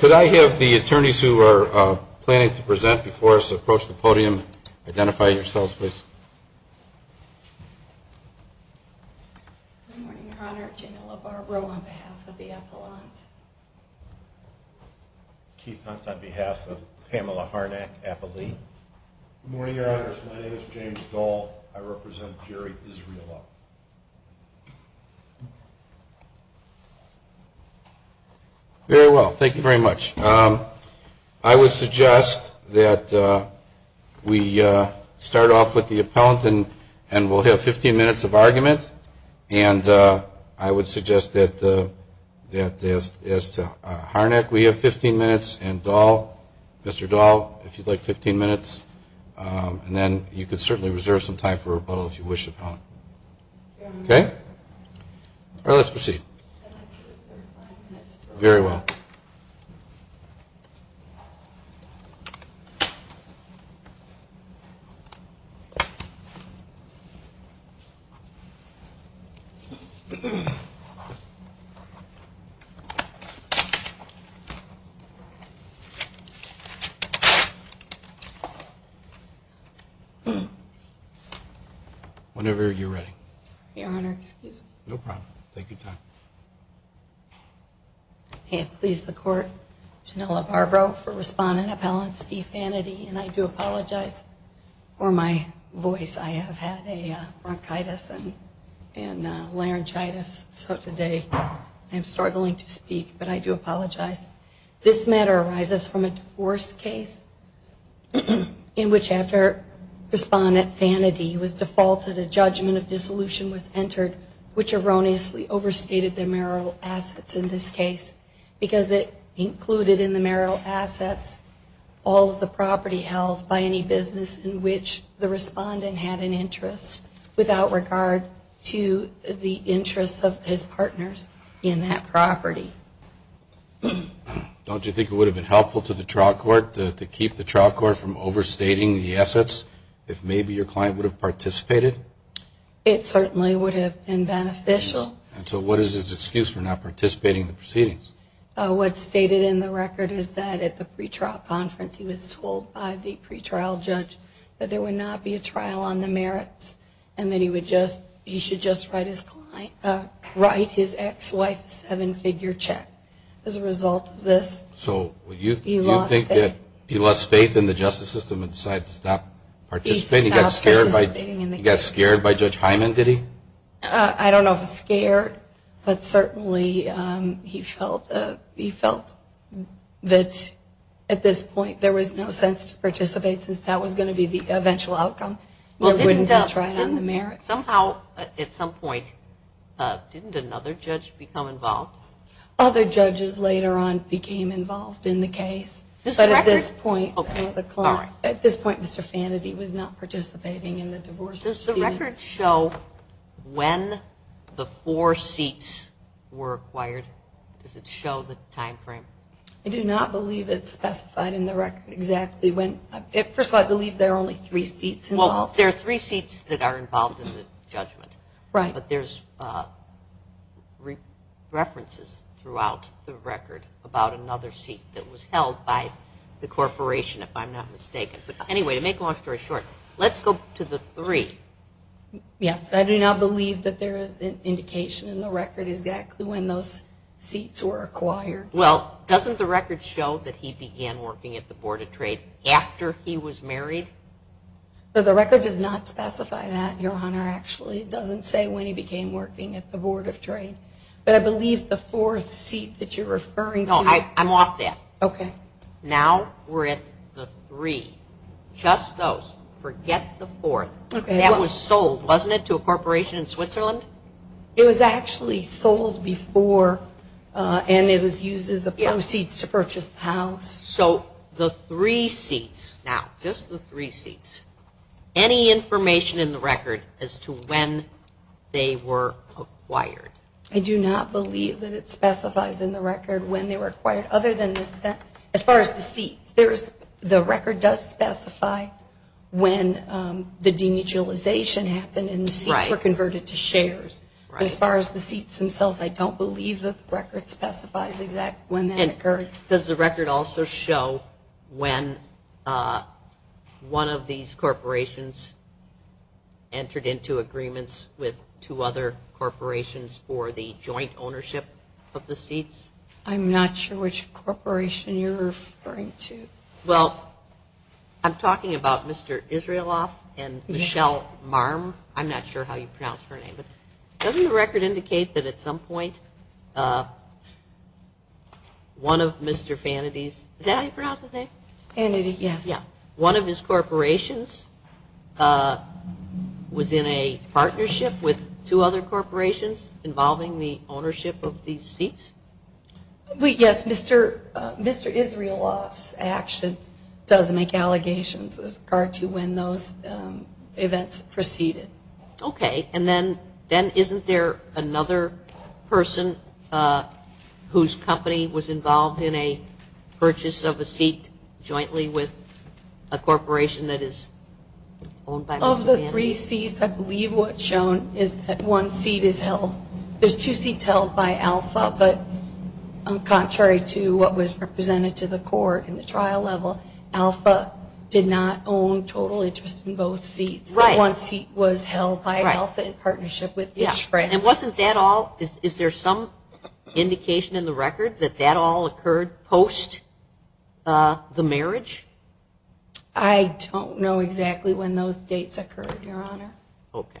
Can I have the attorneys who are planning to present before us to approach the podium identify yourselves please. On behalf of Pamela Harnack. Good morning your honor, my name is James Dahl, I represent We'll start off with the appellant and we'll have 15 minutes of argument and I would suggest that as to Harnack we have 15 minutes and Mr. Dahl if you'd like 15 minutes and then you can certainly reserve some time for rebuttal if you wish upon. Okay, let's proceed. Whenever you're ready. Your honor. No problem, take your time. And please support Janella Barbro for respondent appellant Steve Fanady and I do apologize for my voice I have had a bronchitis and laryngitis so today I'm struggling to speak but I do apologize. This matter arises from a divorce case in which after respondent Fanady was defaulted a judgment of dissolution was entered which erroneously overstated the marital assets in this case because it included in the marital assets all of the property held by any business in which the respondent had an interest without regard to the interest of his partners in that property. Don't you think it would have been helpful to the trial court to keep the trial court from overstating the assets if maybe your client would have participated? It certainly would have been beneficial. So what is his excuse for not participating in the proceedings? What's stated in the record is that at the pretrial conference he was told by the pretrial judge that there would not be a trial on the merits and that he should just write his ex-wife a seven-figure check. As a result of this he lost faith in the justice system and decided to stop participating. He got scared by Judge Hyman, did he? I don't know if he was scared but certainly he felt that at this point there was no sense to participate since that was going to be the eventual outcome. Somehow at some point didn't another judge become involved? Other judges later on became involved in the case. At this point Mr. Fantasy was not participating in the divorce proceedings. Does the record show when the four seats were acquired? Does it show the time frame? I do not believe it's specified in the record exactly. First of all I believe there are only three seats involved. There are three seats that are involved in the judgment but there's references throughout the record about another seat that was held by the corporation if I'm not mistaken. Anyway to make a long story short, let's go to the three. I do not believe that there is an indication in the record exactly when those seats were acquired. Well doesn't the record show that he began working at the Board of Trade after he was married? The record does not specify that, Your Honor. It doesn't say when he became working at the Board of Trade. But I believe the fourth seat that you're referring to... No, I'm off that. Now we're at the three. Just those. Forget the fourth. That was sold, wasn't it, to a corporation in Switzerland? It was actually sold before and it was used as a proceeds to purchase the house. So the three seats. Now, just the three seats. Any information in the record as to when they were acquired? I do not believe that it specifies in the record when they were acquired other than as far as the seats. The record does specify when the denuclearization happened and the seats were converted to shares. As far as the seats themselves, I don't believe the record specifies exactly when that occurred. Does the record also show when one of these corporations entered into agreements with two other corporations for the joint ownership of the seats? I'm not sure which corporation you're referring to. Well, I'm talking about Mr. Israeloff and Michelle Marm. I'm not sure how you pronounce her name. Doesn't the record indicate that at some point one of Mr. Fanady's... Is that how you pronounce his name? Fanady, yes. One of his corporations was in a partnership with two other corporations involving the ownership of these seats? Yes. Mr. Israeloff actually does make allegations as far as to when those events proceeded. Okay, and then isn't there another person whose company was involved in a purchase of a seat jointly with a corporation that is owned by Mr. Fanady? Of the three seats, I believe what's shown is that one seat is held... There's two seats held by Alpha, but contrary to what was presented to the court in the trial level, Alpha did not own total interest in both seats. Right. One seat was held by Alpha in partnership with each friend. And wasn't that all... Is there some indication in the record that that all occurred post the marriage? I don't know exactly when those dates occurred, Your Honor. Okay.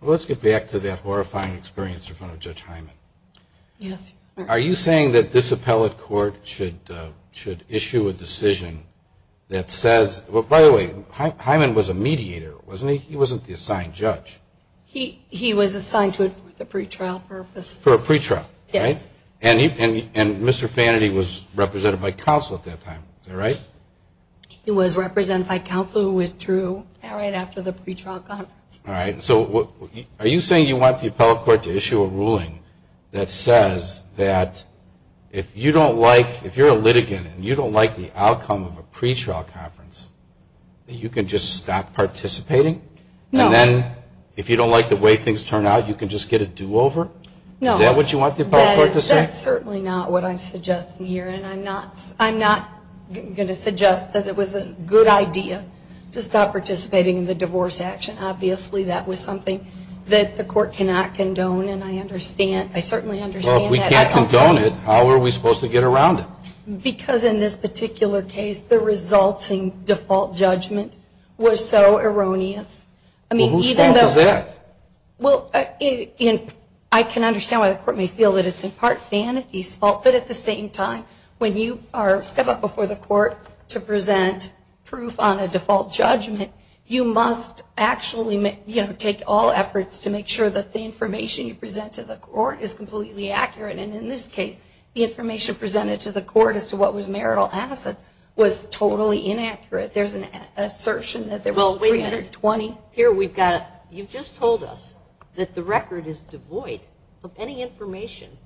Well, let's get back to that horrifying experience in front of Judge Hyman. Yes. Are you saying that this appellate court should issue a decision that says... By the way, Hyman was a mediator, wasn't he? He wasn't the assigned judge. He was assigned to a pre-trial purpose. For a pre-trial, right? Yes. And Mr. Fanady was represented by counsel at that time, is that right? He was represented by counsel who withdrew right after the pre-trial conference. All right. So are you saying you want the appellate court to issue a ruling that says that if you don't like... If you're a litigant and you don't like the outcome of a pre-trial conference, that you can just stop participating? No. And then if you don't like the way things turn out, you can just get a do-over? No. Is that what you want the appellate court to say? That's certainly not what I'm suggesting here. And I'm not going to suggest that it was a good idea to stop participating in the divorce action. Obviously, that was something that the court cannot condone. And I understand. I certainly understand that. Well, if we can't condone it, how are we supposed to get around it? Because in this particular case, the resulting default judgment was so erroneous. Well, who's fault is that? Well, I can understand why the court may feel that it's in part Fanady's fault, but at the same time, when you step up before the court to present proof on a default judgment, you must actually take all efforts to make sure that the information you present to the court is completely accurate. And in this case, the information presented to the court as to what was marital assets was totally inaccurate. There's an assertion that there were 320. Here we've got, you just told us that the record is devoid of any information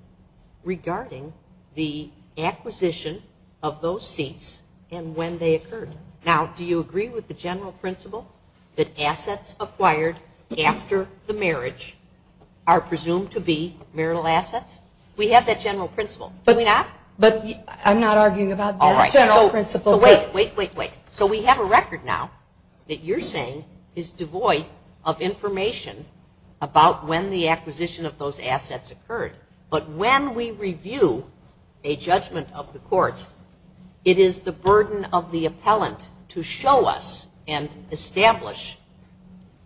regarding the acquisition of those seats and when they occurred. Now, do you agree with the general principle that assets acquired after the marriage are presumed to be marital assets? We have that general principle. Do we not? But I'm not arguing about that general principle. Wait, wait, wait, wait. So we have a record now that you're saying is devoid of information about when the acquisition of those assets occurred. But when we review a judgment of the court, it is the burden of the appellant to show us and establish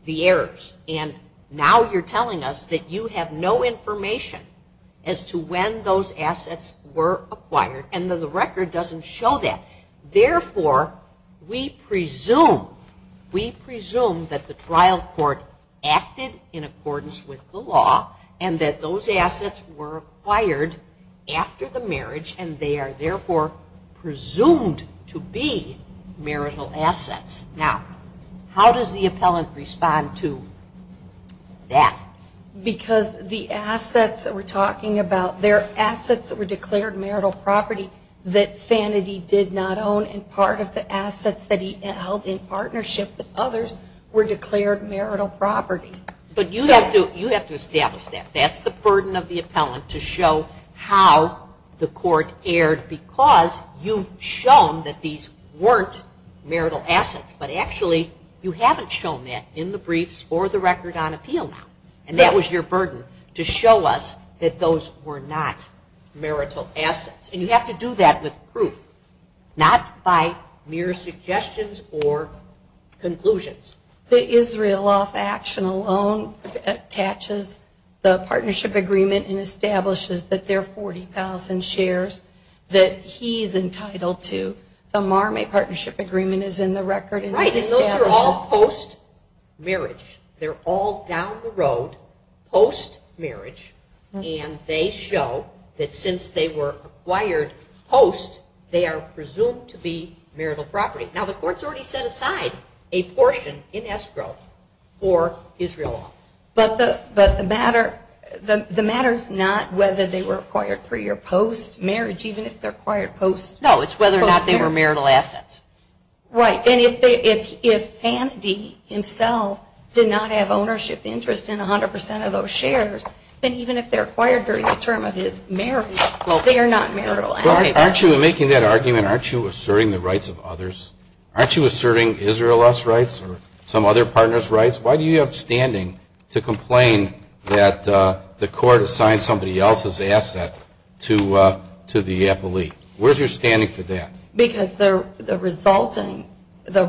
the errors. And now you're telling us that you have no information as to when those assets were acquired and the record doesn't show that. Therefore, we presume that the trial court acted in accordance with the law and that those assets were acquired after the marriage and they are therefore presumed to be marital assets. Now, how does the appellant respond to that? Because the assets that we're talking about, they're assets that were declared marital property that Sandy did not own and part of the assets that he held in partnership with others were declared marital property. But you have to establish that. That's the burden of the appellant to show how the court erred because you've shown that these weren't marital assets. But actually, you haven't shown that in the briefs or the record on appeal now. And that was your burden to show us that those were not marital assets. And you have to do that with proof, not by mere suggestions or conclusions. The Israel Off Action alone attaches the partnership agreement and establishes that there are 40,000 shares that he is entitled to. The Mar-May Partnership Agreement is in the record. Right, and those are all post-marriage. They're all down the road post-marriage and they show that since they were acquired post, they are presumed to be marital property. Now, the court's already set aside a portion in escrow for Israel Off. But the matter is not whether they were acquired for your post-marriage, even if they're acquired post-marriage. No, it's whether or not they were marital assets. Right, and if Andy himself did not have ownership interest in 100% of those shares, then even if they're acquired during the term of his marriage, they are not marital assets. Well, aren't you making that argument, aren't you asserting the rights of others? Aren't you asserting Israel Off's rights or some other partner's rights? Why do you have standing to complain that the court assigned somebody else's asset to the FLE? Where's your standing to that? Because the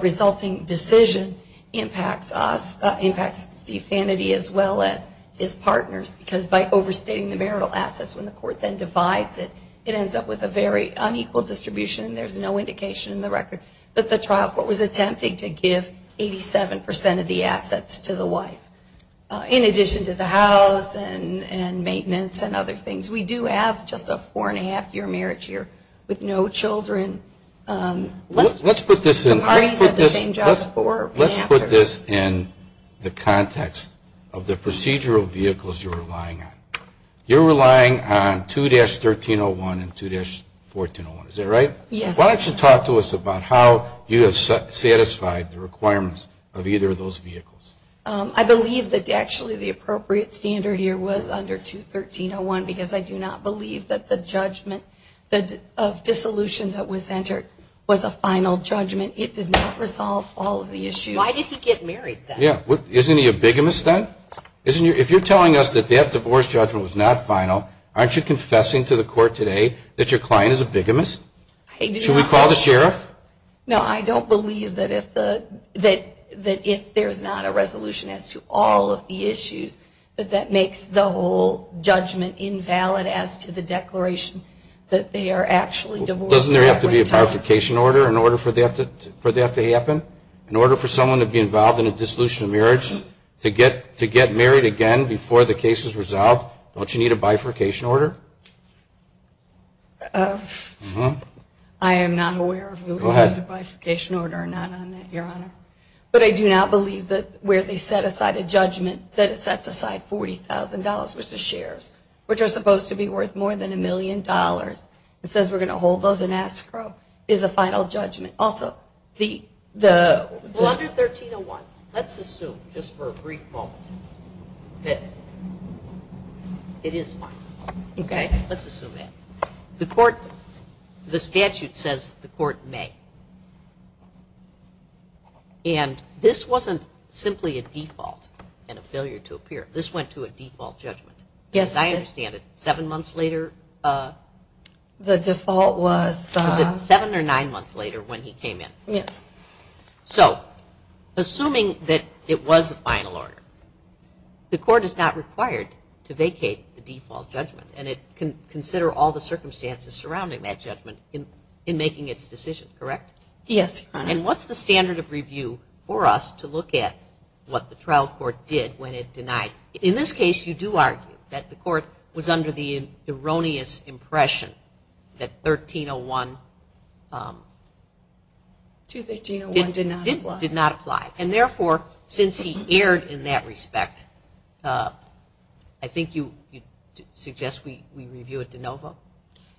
resulting decision impacts us, impacts the sanity as well as its partners, because by overstating the marital assets when the court then divides it, it ends up with a very unequal distribution and there's no indication in the record that the trial court was attempting to give 87% of the assets to the wife, in addition to the house and maintenance and other things. We do have just a four-and-a-half year marriage here with no children. Let's put this in the context of the procedural vehicles you're relying on. You're relying on 2-1301 and 2-1401, is that right? Yes. Why don't you talk to us about how you have satisfied the requirements of either of those vehicles? I believe that actually the appropriate standard here was under 2-1301 because I do not believe that the judgment of dissolution that was entered was a final judgment. It did not resolve all of the issues. Why did he get married then? Isn't he a bigamist then? If you're telling us that that divorce judgment was not final, aren't you confessing to the court today that your client is a bigamist? Should we call the sheriff? No, I don't believe that if there's not a resolution as to all of the issues, that that makes the whole judgment invalid as to the declaration that they are actually divorced. Doesn't there have to be a bifurcation order in order for that to happen? In order for someone to be involved in a dissolution of marriage, to get married again before the case is resolved, don't you need a bifurcation order? I am not aware of a bifurcation order or none on that, Your Honor. But I do not believe that where they set aside a judgment that it sets aside $40,000 versus shares, which are supposed to be worth more than a million dollars, and says we're going to hold those in escrow, is a final judgment. And also, under 1301, let's assume, just for a brief moment, that it is final. Okay, let's assume that. The statute says the court may. And this wasn't simply a default and a failure to appear. This went to a default judgment. Yes, I understand it. Seven months later? The default was... Was it seven or nine months later when he came in? Yes. So, assuming that it was a final order, the court is not required to vacate the default judgment and it can consider all the circumstances surrounding that judgment in making its decision, correct? Yes, Your Honor. And what's the standard of review for us to look at what the trial court did when it denied? In this case, you do argue that the court was under the erroneous impression that 1301... 1301 did not apply. Did not apply. And therefore, since he erred in that respect, I think you suggest we review it de novo?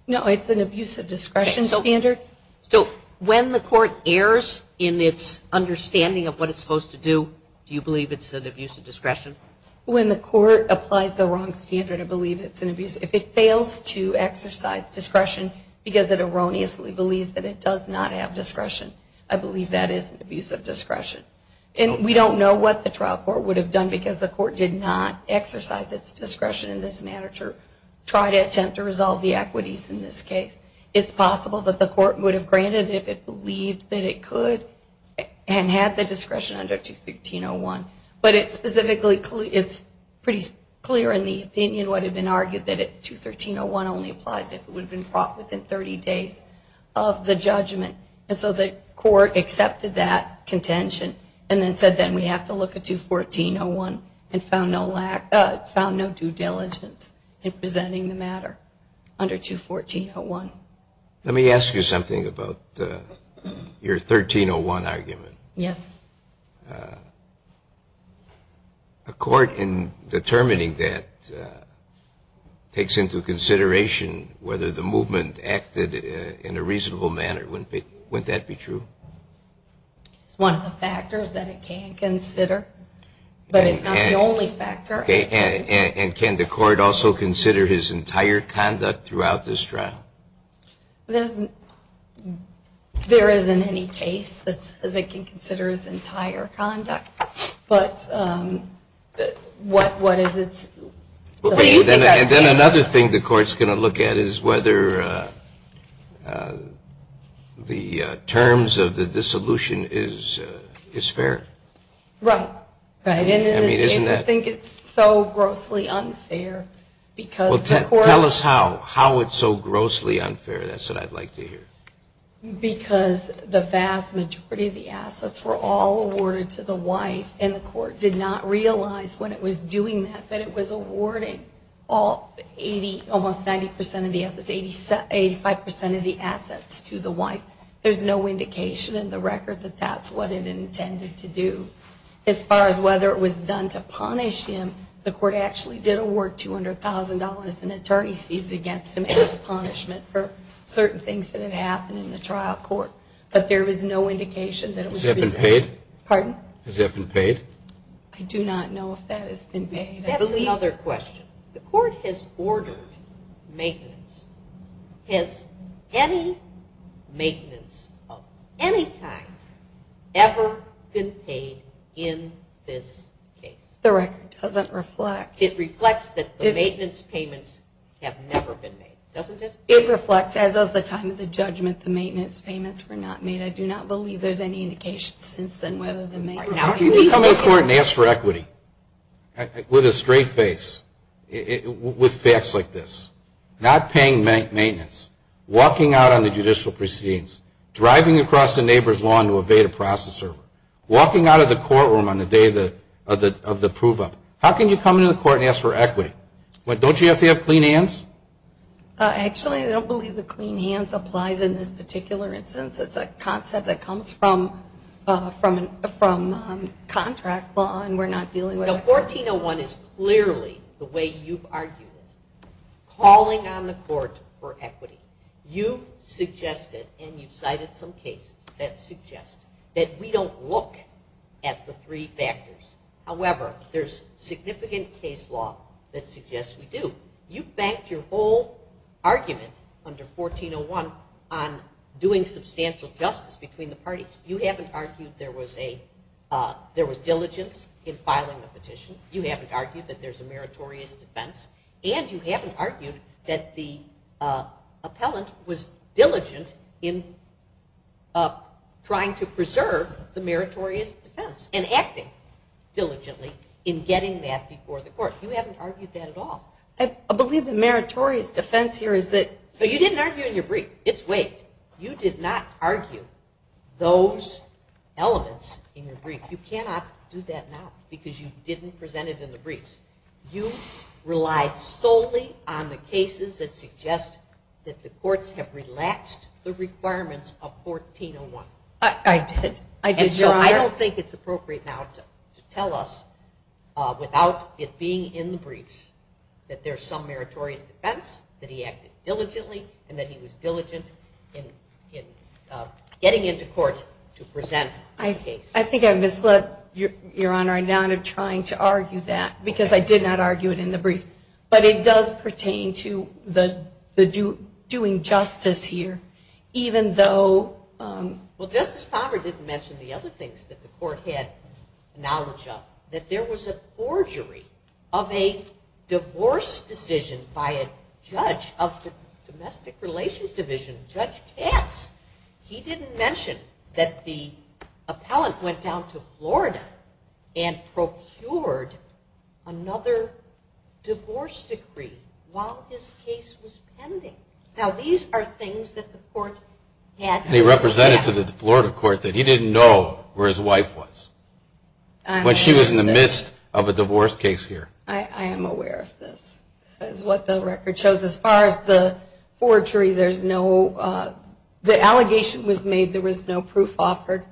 No, it's an abuse of discretion standard. So, when the court errs in its understanding of what it's supposed to do, do you believe it's an abuse of discretion? When the court applies the wrong standard, I believe it's an abuse. If it fails to exercise discretion because it erroneously believes that it does not have discretion, I believe that is an abuse of discretion. And we don't know what the trial court would have done because the court did not exercise its discretion in this manner to try to attempt to resolve the equities in this case. It's possible that the court would have granted if it believed that it could and had the discretion under 213.01. But it's pretty clear in the opinion what had been argued that 213.01 only applies if it would have been brought within 30 days of the judgment. And so the court accepted that contention and then said then we have to look at 214.01 and found no due diligence in presenting the matter under 214.01. Let me ask you something about your 1301 argument. Yes. A court in determining that takes into consideration whether the movement acted in a reasonable manner. Wouldn't that be true? One of the factors that it can consider, but it's not the only factor. And can the court also consider his entire conduct throughout this trial? There isn't any case that it can consider his entire conduct. And then another thing the court is going to look at is whether the terms of the dissolution is fair. Right. I think it's so grossly unfair. Tell us how. How it's so grossly unfair. That's what I'd like to hear. Because the vast majority of the assets were all awarded to the white and the court did not realize when it was doing that that it was awarding almost 90% of the assets, 85% of the assets to the white. There's no indication in the record that that's what it intended to do. As far as whether it was done to punish him, the court actually did award $200,000 in attorney fees against him as a punishment for certain things that had happened in the trial court. But there is no indication that it was. Has he ever been paid? Pardon? Has he ever been paid? I do not know if that has been paid. I believe. That's another question. The court has ordered maintenance. Has any maintenance of any type ever been paid in this case? The record doesn't reflect. It reflects that the maintenance payments have never been made, doesn't it? It reflects as of the time of the judgment the maintenance payments were not made. I do not believe there's any indication since then whether the maintenance payments were made. How can you come to court and ask for equity with a straight face, with facts like this, not paying maintenance, walking out on the judicial proceedings, driving across the neighbor's lawn to evade a processor, walking out of the courtroom on the day of the proof of it? How can you come into the court and ask for equity? Don't you have to have clean hands? Actually, I don't believe the clean hands applies in this particular instance. It's a concept that comes from contract law, and we're not dealing with it. The 1401 is clearly the way you've argued, calling on the court for equity. You've suggested, and you've cited some cases that suggest that we don't look at the three factors. However, there's significant case law that suggests we do. You've banked your whole argument under 1401 on doing substantial justice between the parties. You haven't argued there was diligence in filing the petition. You haven't argued that there's a meritorious defense, and you haven't argued that the appellant was diligent in trying to preserve the meritorious defense You haven't argued that at all. I believe the meritorious defense here is that... But you didn't argue in your brief. It's weight. You did not argue those elements in your brief. You cannot do that now because you didn't present it in the brief. You rely solely on the cases that suggest that the courts have relaxed the requirements of 1401. I did. I did, Your Honor. I think it's appropriate now to tell us, without it being in the brief, that there's some meritorious defense, that he acted diligently, and that he was diligent in getting into court to present his case. I think I've misled Your Honor. I'm now trying to argue that because I did not argue it in the brief. But it does pertain to the doing justice here, even though... Well, Justice Conrad didn't mention the other things that the court had knowledge of, that there was a forgery of a divorce decision by a judge of the domestic relations division, Judge Katz. He didn't mention that the appellant went down to Florida and procured another divorce decree while this case was pending. Now, these are things that the court had... They represented to the Florida court that he didn't know where his wife was when she was in the midst of a divorce case here. I am aware of this. What the record shows, as far as the forgery, there's no... The allegation was made there was no proof offered.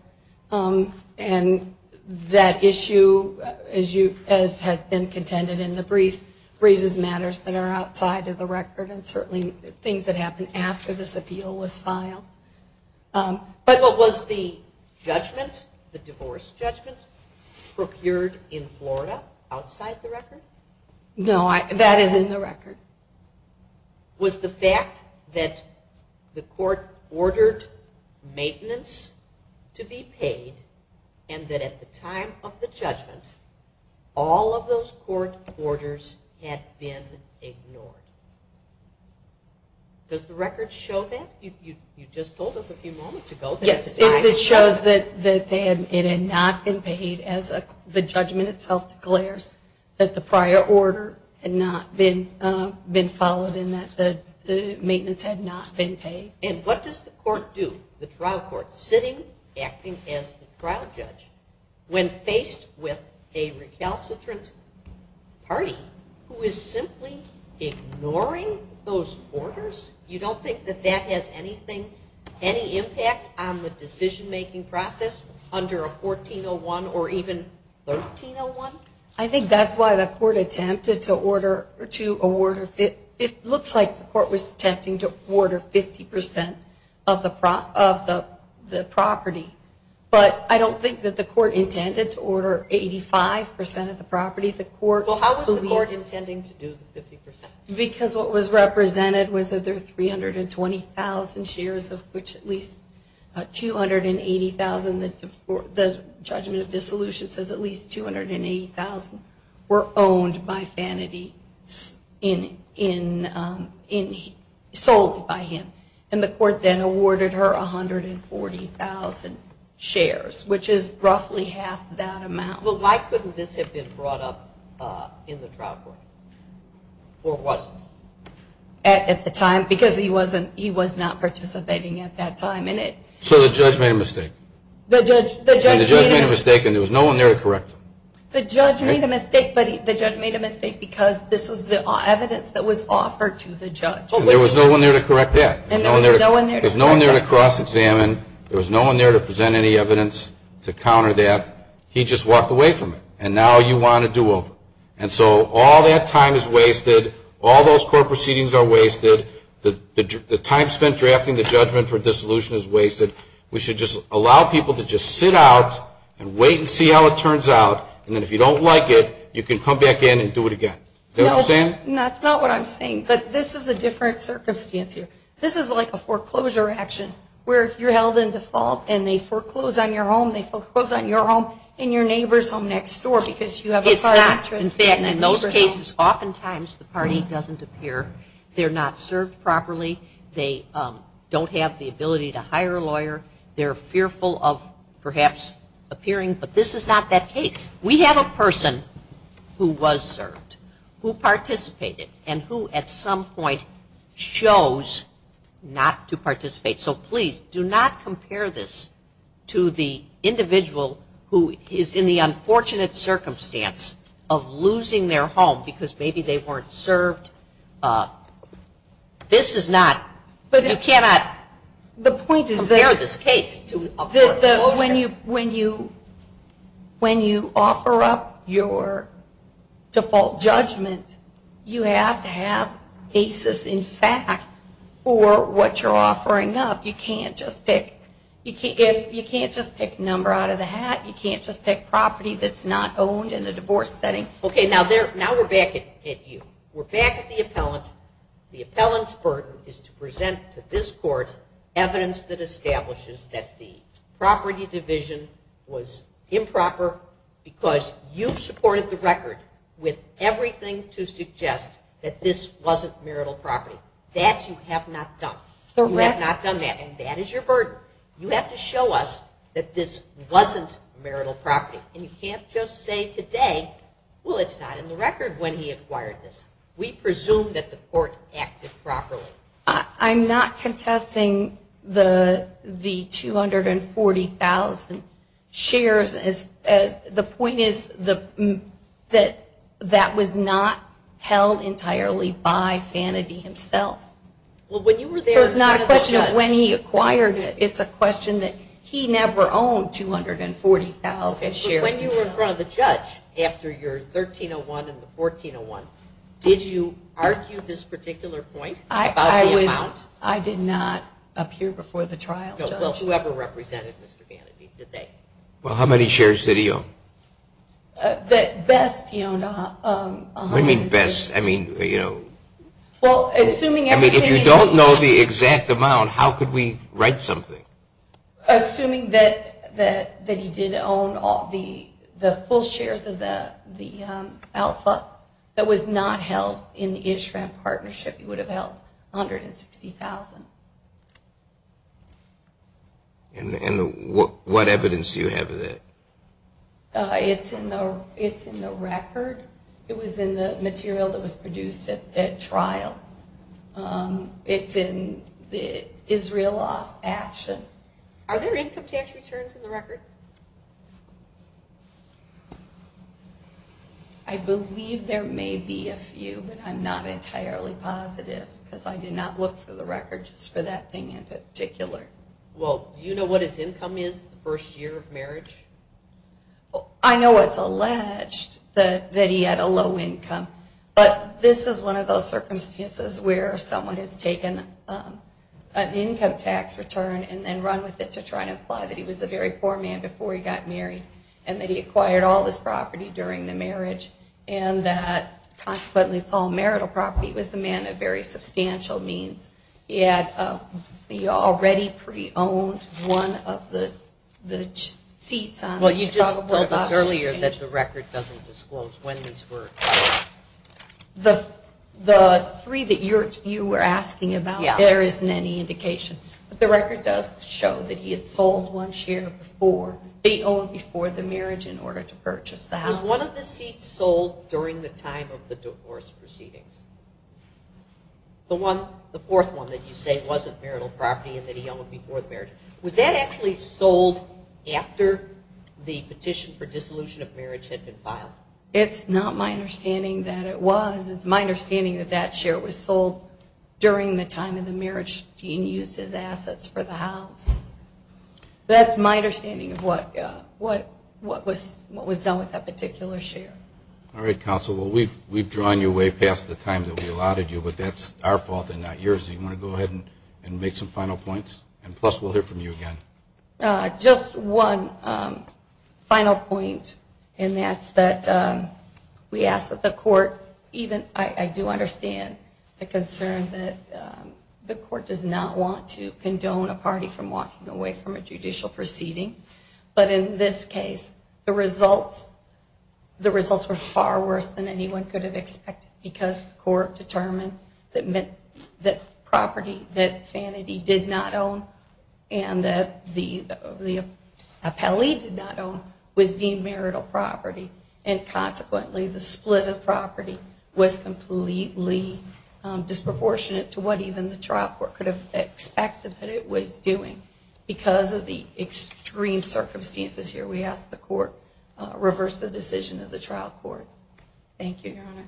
And that issue, as you said, has been contended in the brief. These are briefs and matters that are outside of the record and certainly things that happened after this appeal was filed. But what was the judgment, the divorce judgment, procured in Florida, outside the record? No, that is in the record. Was the fact that the court ordered maintenance to be paid and that at the time of the judgment, all of those court orders had been ignored? Does the record show that? You just told us a few moments ago. Yes, it shows that it had not been paid as the judgment itself declares, that the prior order had not been followed and that the maintenance had not been paid. And what does the court do, the trial court, sitting, acting as the trial judge, when faced with a recalcitrant party who is simply ignoring those orders? You don't think that that has anything, any impact on the decision-making process under a 1401 or even 1301? I think that's why the court attempted to order... It looks like the court was attempting to order 50% of the property, but I don't think that the court intended to order 85% of the property. Well, how was the court intending to do the 50%? Because what was represented was that there were 320,000 shares of which at least 280,000, and the judgment of dissolution says at least 280,000 were owned by Vanity and sold by him. And the court then awarded her 140,000 shares, which is roughly half that amount. Well, why couldn't this have been brought up in the trial court? Or was it? At the time, because he was not participating at that time. So the judge made a mistake. And the judge made a mistake, and there was no one there to correct him. The judge made a mistake, but the judge made a mistake because this was the evidence that was offered to the judge. There was no one there to correct that. There was no one there to cross-examine. There was no one there to present any evidence to counter that. He just walked away from it, and now you want a do-over. And so all that time is wasted. All those court proceedings are wasted. The time spent drafting the judgment for dissolution is wasted. We should just allow people to just sit out and wait and see how it turns out, and then if you don't like it, you can come back in and do it again. Is that what I'm saying? No, that's not what I'm saying, but this is a different circumstance here. This is like a foreclosure action where you're held in default, and they foreclose on your home, they foreclose on your home, and your neighbor's home next door because you have a partner. In fact, in those cases, oftentimes the party doesn't appear. They're not served properly. They don't have the ability to hire a lawyer. They're fearful of perhaps appearing, but this is not that case. We have a person who was served, who participated, and who at some point chose not to participate. So please, do not compare this to the individual who is in the unfortunate circumstance of losing their home because maybe they weren't served. This is not, you cannot compare this case to a foreclosure. When you offer up your default judgment, you have to have basis in fact for what you're offering up. You can't just pick a number out of the hat. You can't just pick property that's not owned in a divorce setting. Okay, now we're back at you. We're back at the appellant. The appellant's burden is to present to this court evidence that establishes that the property division was improper because you supported the record with everything to suggest that this wasn't marital property. That you have not done. You have not done that, and that is your burden. You have to show us that this wasn't marital property, and you can't just say today, well, it's not in the record when he acquired this. We presume that the court acted properly. I'm not contesting the 240,000 shares. The point is that that was not held entirely by sanity himself. There's not a question of when he acquired it. It's a question that he never owned 240,000 shares. When you were in front of the judge after your 1301 and the 1401, did you argue this particular point about the amount? I did not appear before the trial. Well, whoever represented Mr. Vanity, did they? Well, how many shares did he own? The best, you know. What do you mean best? I mean, you know, if you don't know the exact amount, how could we write something? Assuming that he did own the full shares of the alpha, that was not held in the ISHRAQ partnership, he would have held 160,000. And what evidence do you have of that? It's in the record. It was in the material that was produced at that trial. It's in Israel Action. Are there income tax returns in the record? I believe there may be a few. I'm not entirely positive because I did not look for the records for that thing in particular. Well, do you know what his income is the first year of marriage? I know it's alleged that he had a low income. But this is one of those circumstances where someone has taken an income tax return and then run with it to try and imply that he was a very poor man before he got married and that he acquired all this property during the marriage and that it's all marital property. He was a man of very substantial means. He already pre-owned one of the seats. Well, you talked about this earlier that the record doesn't disclose when these were acquired. The three that you were asking about, there isn't any indication. The record does show that he had sold one share before. He owned before the marriage in order to purchase the house. Was one of the seats sold during the time of the divorce proceeding? The fourth one that you say wasn't marital property and that he owned before the marriage. Was that actually sold after the petition for dissolution of marriage had been filed? It's not my understanding that it was. It's my understanding that that share was sold during the time of the marriage. He used his assets for the house. That's my understanding of what was done with that particular share. All right, Counsel. Well, we've drawn you way past the time that we allotted you, but that's our fault and not yours. Do you want to go ahead and make some final points? And, plus, we'll hear from you again. Just one final point, and that's that we ask that the court even – I do understand the concern that the court does not want to condone a party from walking away from a judicial proceeding. But in this case, the results were far worse than anyone could have expected because the court determined that property that Sanity did not own and that the appellee did not own would be marital property. And, consequently, the split of property was completely disproportionate to what even the trial court could have expected that it was doing. Because of the extreme circumstances here, we ask the court reverse the decision of the trial court. Thank you, Your Honor.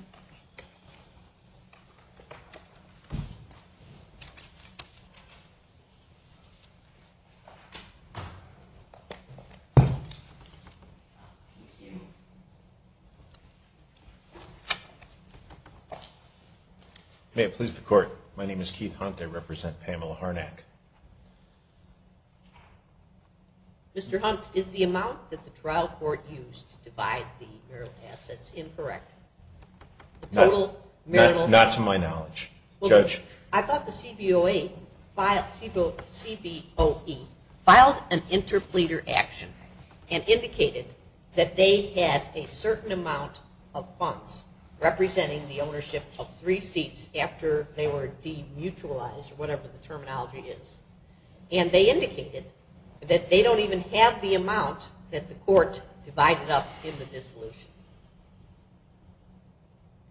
May it please the Court, my name is Keith Hunt. I represent Pamela Harnack. Mr. Hunt, is the amount that the trial court used to divide the marital assets incorrect? Not to my knowledge. Judge? I thought the CBOE filed an interpleader action and indicated that they had a certain amount of funds representing the ownership of three seats after they were demutualized, or whatever the terminology is. And they indicated that they don't even have the amount that the court divided up in the dissolution.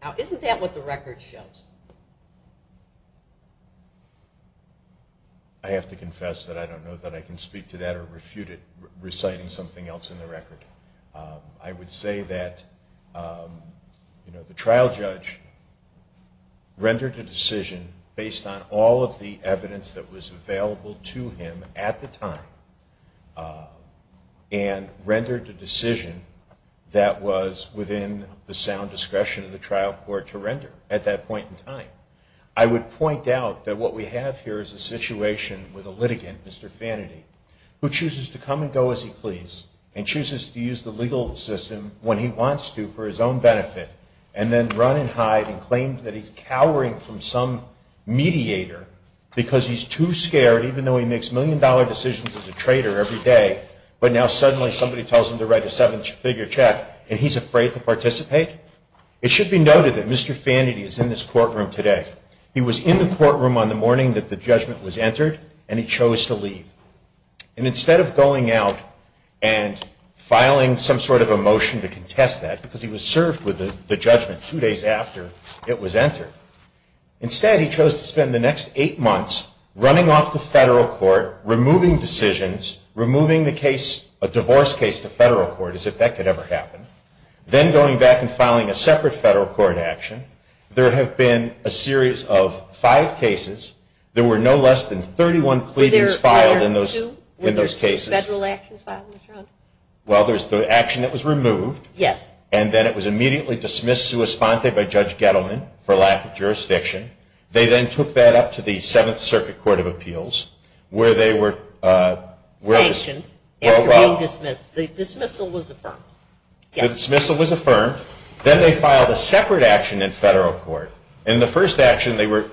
Now, isn't that what the record shows? I have to confess that I don't know that I can speak to that or refute it reciting something else in the record. I would say that the trial judge rendered a decision based on all of the evidence that was available to him at the time and rendered a decision that was within the sound discretion of the trial court to render at that point in time. I would point out that what we have here is a situation with a litigant, Mr. Fanady, who chooses to come and go as he pleases and chooses to use the legal system when he wants to for his own benefit and then run and hide and claims that he's cowering from some mediator because he's too scared, even though he makes million-dollar decisions as a trader every day, but now suddenly somebody tells him to write a seven-figure check and he's afraid to participate. It should be noted that Mr. Fanady is in this courtroom today. He was in the courtroom on the morning that the judgment was entered and he chose to leave. And instead of going out and filing some sort of a motion to contest that, because he was served with the judgment two days after it was entered, instead he chose to spend the next eight months running off the federal court, removing decisions, removing the case, a divorce case to federal court, as if that could ever happen, then going back and filing a separate federal court action. There have been a series of five cases. There were no less than 31 pleadings filed in those cases. Were there two? Well, there's the action that was removed. Yes. And then it was immediately dismissed to a sponte by Judge Gettleman for lack of jurisdiction. They then took that up to the Seventh Circuit Court of Appeals where they were... The dismissal was affirmed. The dismissal was affirmed. Then they filed a separate action in federal court. In the first action they were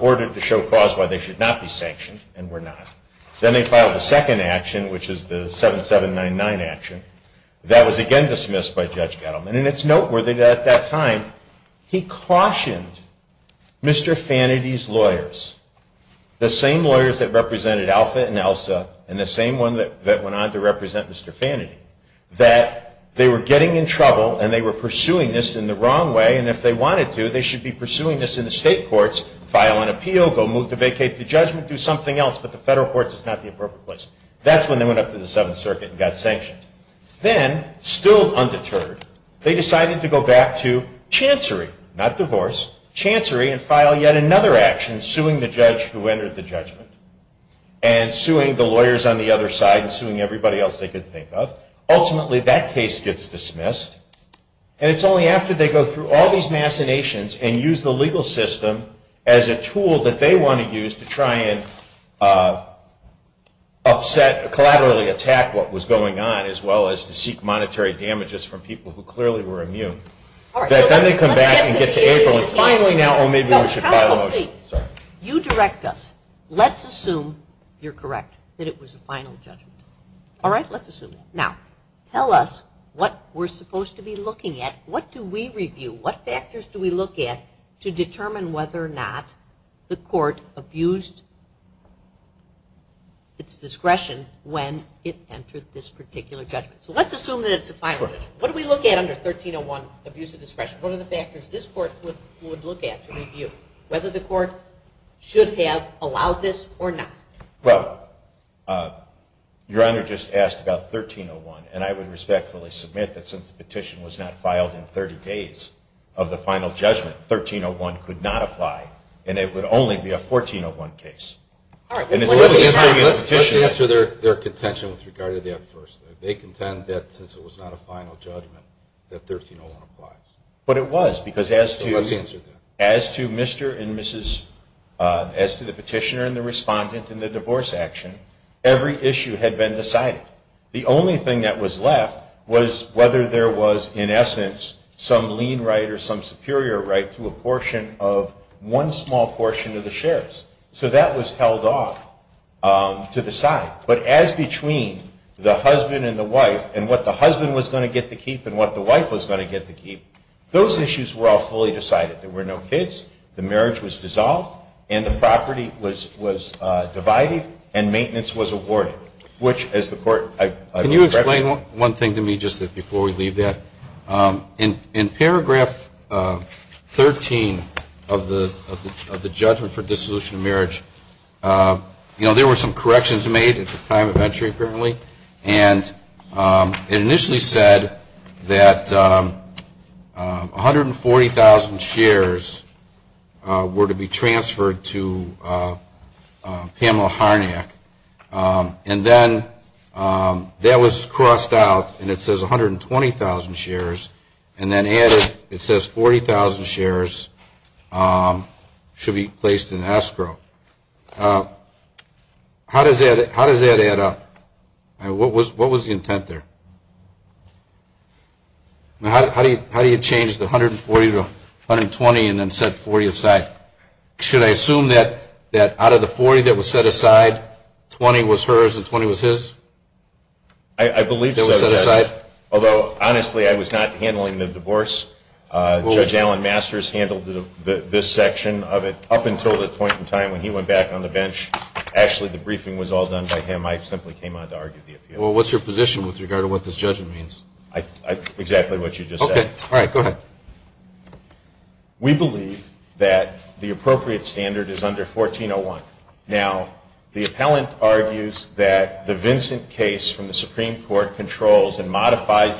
ordered to show cause why they should not be sanctioned and were not. Then they filed a second action, which is the 7799 action. That was again dismissed by Judge Gettleman. And it's noteworthy that at that time he cautioned Mr. Fanady's lawyers, the same lawyers that represented Alpha and Elsa and the same one that went on to represent Mr. Fanady, that they were getting in trouble and they were pursuing this in the wrong way. And if they wanted to, they should be pursuing this in the state courts, file an appeal, go move to vacate the judgment, do something else, but the federal courts is not the appropriate place. That's when they went up to the Seventh Circuit and got sanctioned. Then, still undeterred, they decided to go back to chancery, not divorce, chancery and file yet another action suing the judge who entered the judgment and suing the lawyers on the other side and suing everybody else they could think of. Ultimately, that case gets dismissed. And it's only after they go through all these macinations and use the legal system as a tool that they want to use to try and upset, collaterally attack what was going on as well as to seek monetary damages from people who clearly were immune, that then they come back and get to April and finally now maybe we should file a motion. You direct us. Let's assume you're correct, that it was a final judgment. All right, let's assume that. Now, tell us what we're supposed to be looking at. What do we review? What factors do we look at to determine whether or not the court abused its discretion when it entered this particular judgment? So let's assume that it's a final judgment. What do we look at under 1301, abuse of discretion? What are the factors this court would look at to review? Whether the court should have allowed this or not? Well, Your Honor just asked about 1301, and I would respectfully submit that since the petition was not filed in 30 days of the final judgment, 1301 could not apply, and it would only be a 1401 case. All right. Let's answer their contention with regard to the enforcement. They contend that since it was not a final judgment that 1301 applies. But it was, because as to Mr. and Mrs. – as to the petitioner and the respondent and the divorce action, every issue had been decided. The only thing that was left was whether there was, in essence, some lien right or some superior right to a portion of – one small portion of the shares. So that was held off to the side. But as between the husband and the wife and what the husband was going to get to keep and what the wife was going to get to keep, those issues were all fully decided. There were no kids. The marriage was dissolved, and the property was divided, and maintenance was awarded, which as the court – Can you explain one thing to me just before we leave that? In paragraph 13 of the judgment for dissolution of marriage, you know, there were some corrections made at the time of entry, apparently. And it initially said that 140,000 shares were to be transferred to Pamela Harnack. And then that was crossed out, and it says 120,000 shares. And then added, it says 40,000 shares should be placed in escrow. How does that add up? What was the intent there? How do you change the 140 to 120 and then set 40 aside? Should I assume that out of the 40 that was set aside, 20 was hers and 20 was his? I believe so. Although, honestly, I was not handling the divorce. Judge Allen Masters handled this section of it up until the point in time when he went back on the bench. Actually, the briefing was all done by him. I simply came on to argue the appeal. Well, what's your position with regard to what this judgment means? Exactly what you just said. Okay. All right. Go ahead. We believe that the appropriate standard is under 1401. Now, the appellant argues that the Vincent case from the Supreme Court controls and modified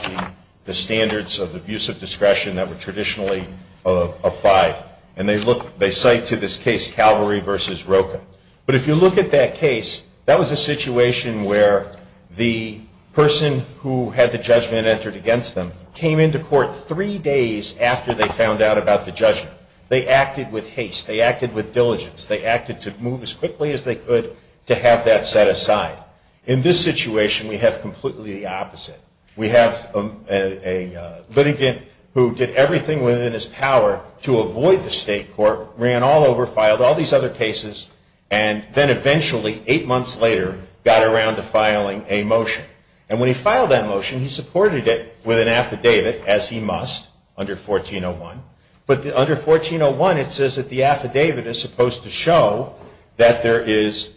the standards of abusive discretion that were traditionally applied. And they cite to this case Calvary v. Roken. But if you look at that case, that was a situation where the person who had the judgment entered against them came into court three days after they found out about the judgment. They acted with haste. They acted with diligence. They acted to move as quickly as they could to have that set aside. In this situation, we have completely the opposite. We have a litigant who did everything within his power to avoid the state court, ran all over, filed all these other cases, and then eventually, eight months later, got around to filing a motion. And when he filed that motion, he supported it with an affidavit, as he must, under 1401. But under 1401, it says that the affidavit is supposed to show that there is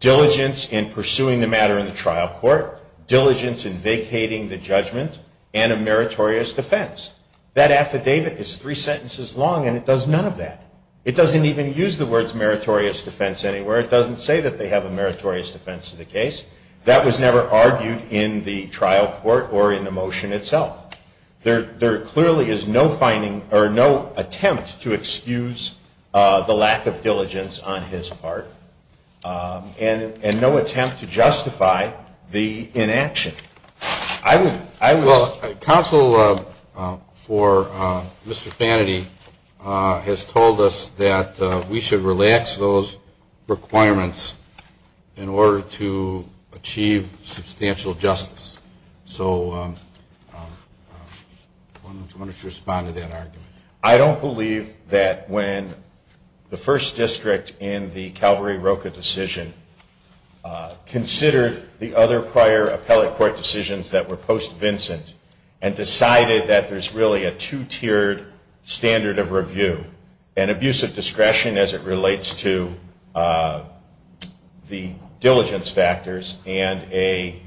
diligence in pursuing the matter in the trial court, diligence in vacating the judgment, and a meritorious defense. That affidavit is three sentences long, and it does none of that. It doesn't even use the words meritorious defense anywhere. It doesn't say that they have a meritorious defense in the case. That was never argued in the trial court or in the motion itself. There clearly is no finding or no attempt to excuse the lack of diligence on his part, and no attempt to justify the inaction. Counsel for Mr. Fanaty has told us that we should relax those requirements in order to achieve substantial justice. So why don't you respond to that argument? I don't believe that when the first district in the Calvary-Roca decision considered the other prior appellate court decisions that were post-Vincent and decided that there's really a two-tiered standard of review, an abuse of discretion as it relates to the diligence factors, and a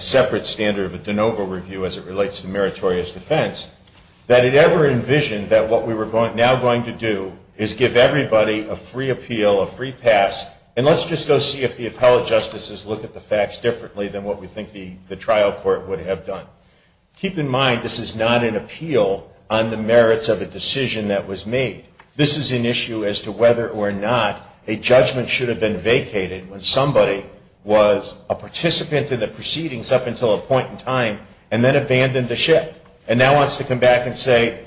separate standard of a de novo review as it relates to meritorious defense, that it ever envisioned that what we were now going to do is give everybody a free appeal, a free pass, and let's just go see if the appellate justices look at the facts differently than what we think the trial court would have done. Keep in mind, this is not an appeal on the merits of a decision that was made. This is an issue as to whether or not a judgment should have been vacated when somebody was a participant in the proceedings up until a point in time and then abandoned the ship and now wants to come back and say,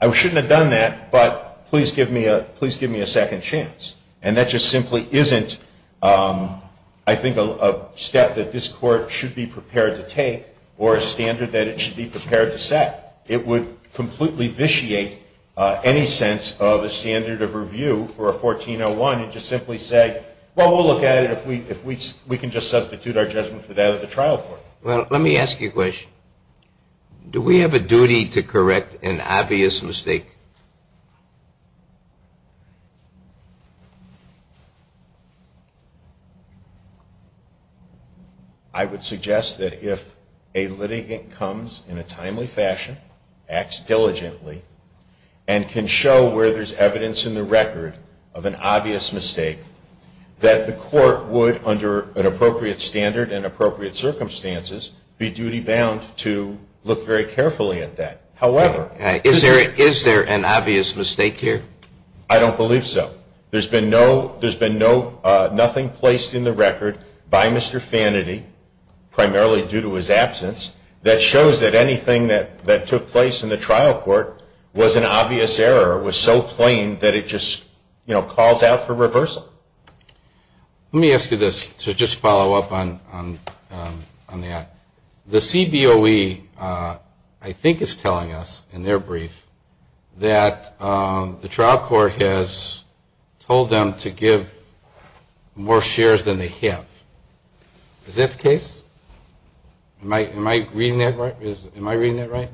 I shouldn't have done that, but please give me a second chance. And that just simply isn't, I think, a step that this court should be prepared to take or a standard that it should be prepared to set. It would completely vitiate any sense of a standard of review for a 1401 and just simply say, well, we'll look at it if we can just substitute our judgment for that at the trial court. Well, let me ask you a question. Do we have a duty to correct an obvious mistake? I would suggest that if a litigant comes in a timely fashion, acts diligently, and can show where there's evidence in the record of an obvious mistake, that the court would, under an appropriate standard and appropriate circumstances, be duty-bound to look very carefully at that. Is there an obvious mistake here? I don't believe so. There's been nothing placed in the record by Mr. Fanaty, primarily due to his absence, that shows that anything that took place in the trial court was an obvious error, or was so plain that it just called out for reversal. Let me ask you this to just follow up on that. The CBOE, I think, is telling us in their brief that the trial court has told them to give more shares than they have. Is that the case? Am I reading that right?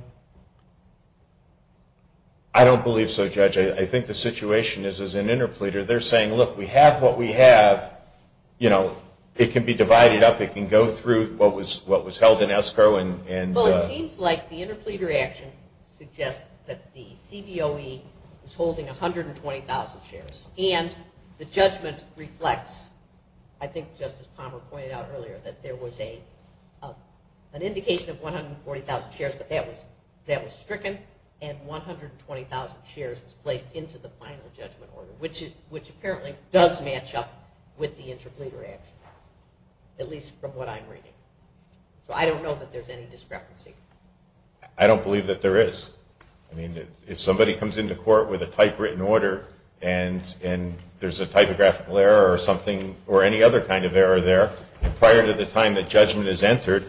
I don't believe so, Judge. I think the situation is, as an interpleader, they're saying, look, we have what we have. You know, it can be divided up. It can go through what was held in ESCO and... Well, it seems like the interpleader action suggests that the CBOE is holding 120,000 shares, and the judgment reflects, I think Justice Palmer pointed out earlier, that there was an indication of 140,000 shares, but that was stricken, and 120,000 shares was placed into the final judgment order, which apparently does match up with the interpleader action, at least from what I'm reading. So I don't know that there's any discrepancy. I don't believe that there is. I mean, if somebody comes into court with a typewritten order, and there's a typographical error or something, or any other kind of error there, prior to the time that judgment is entered,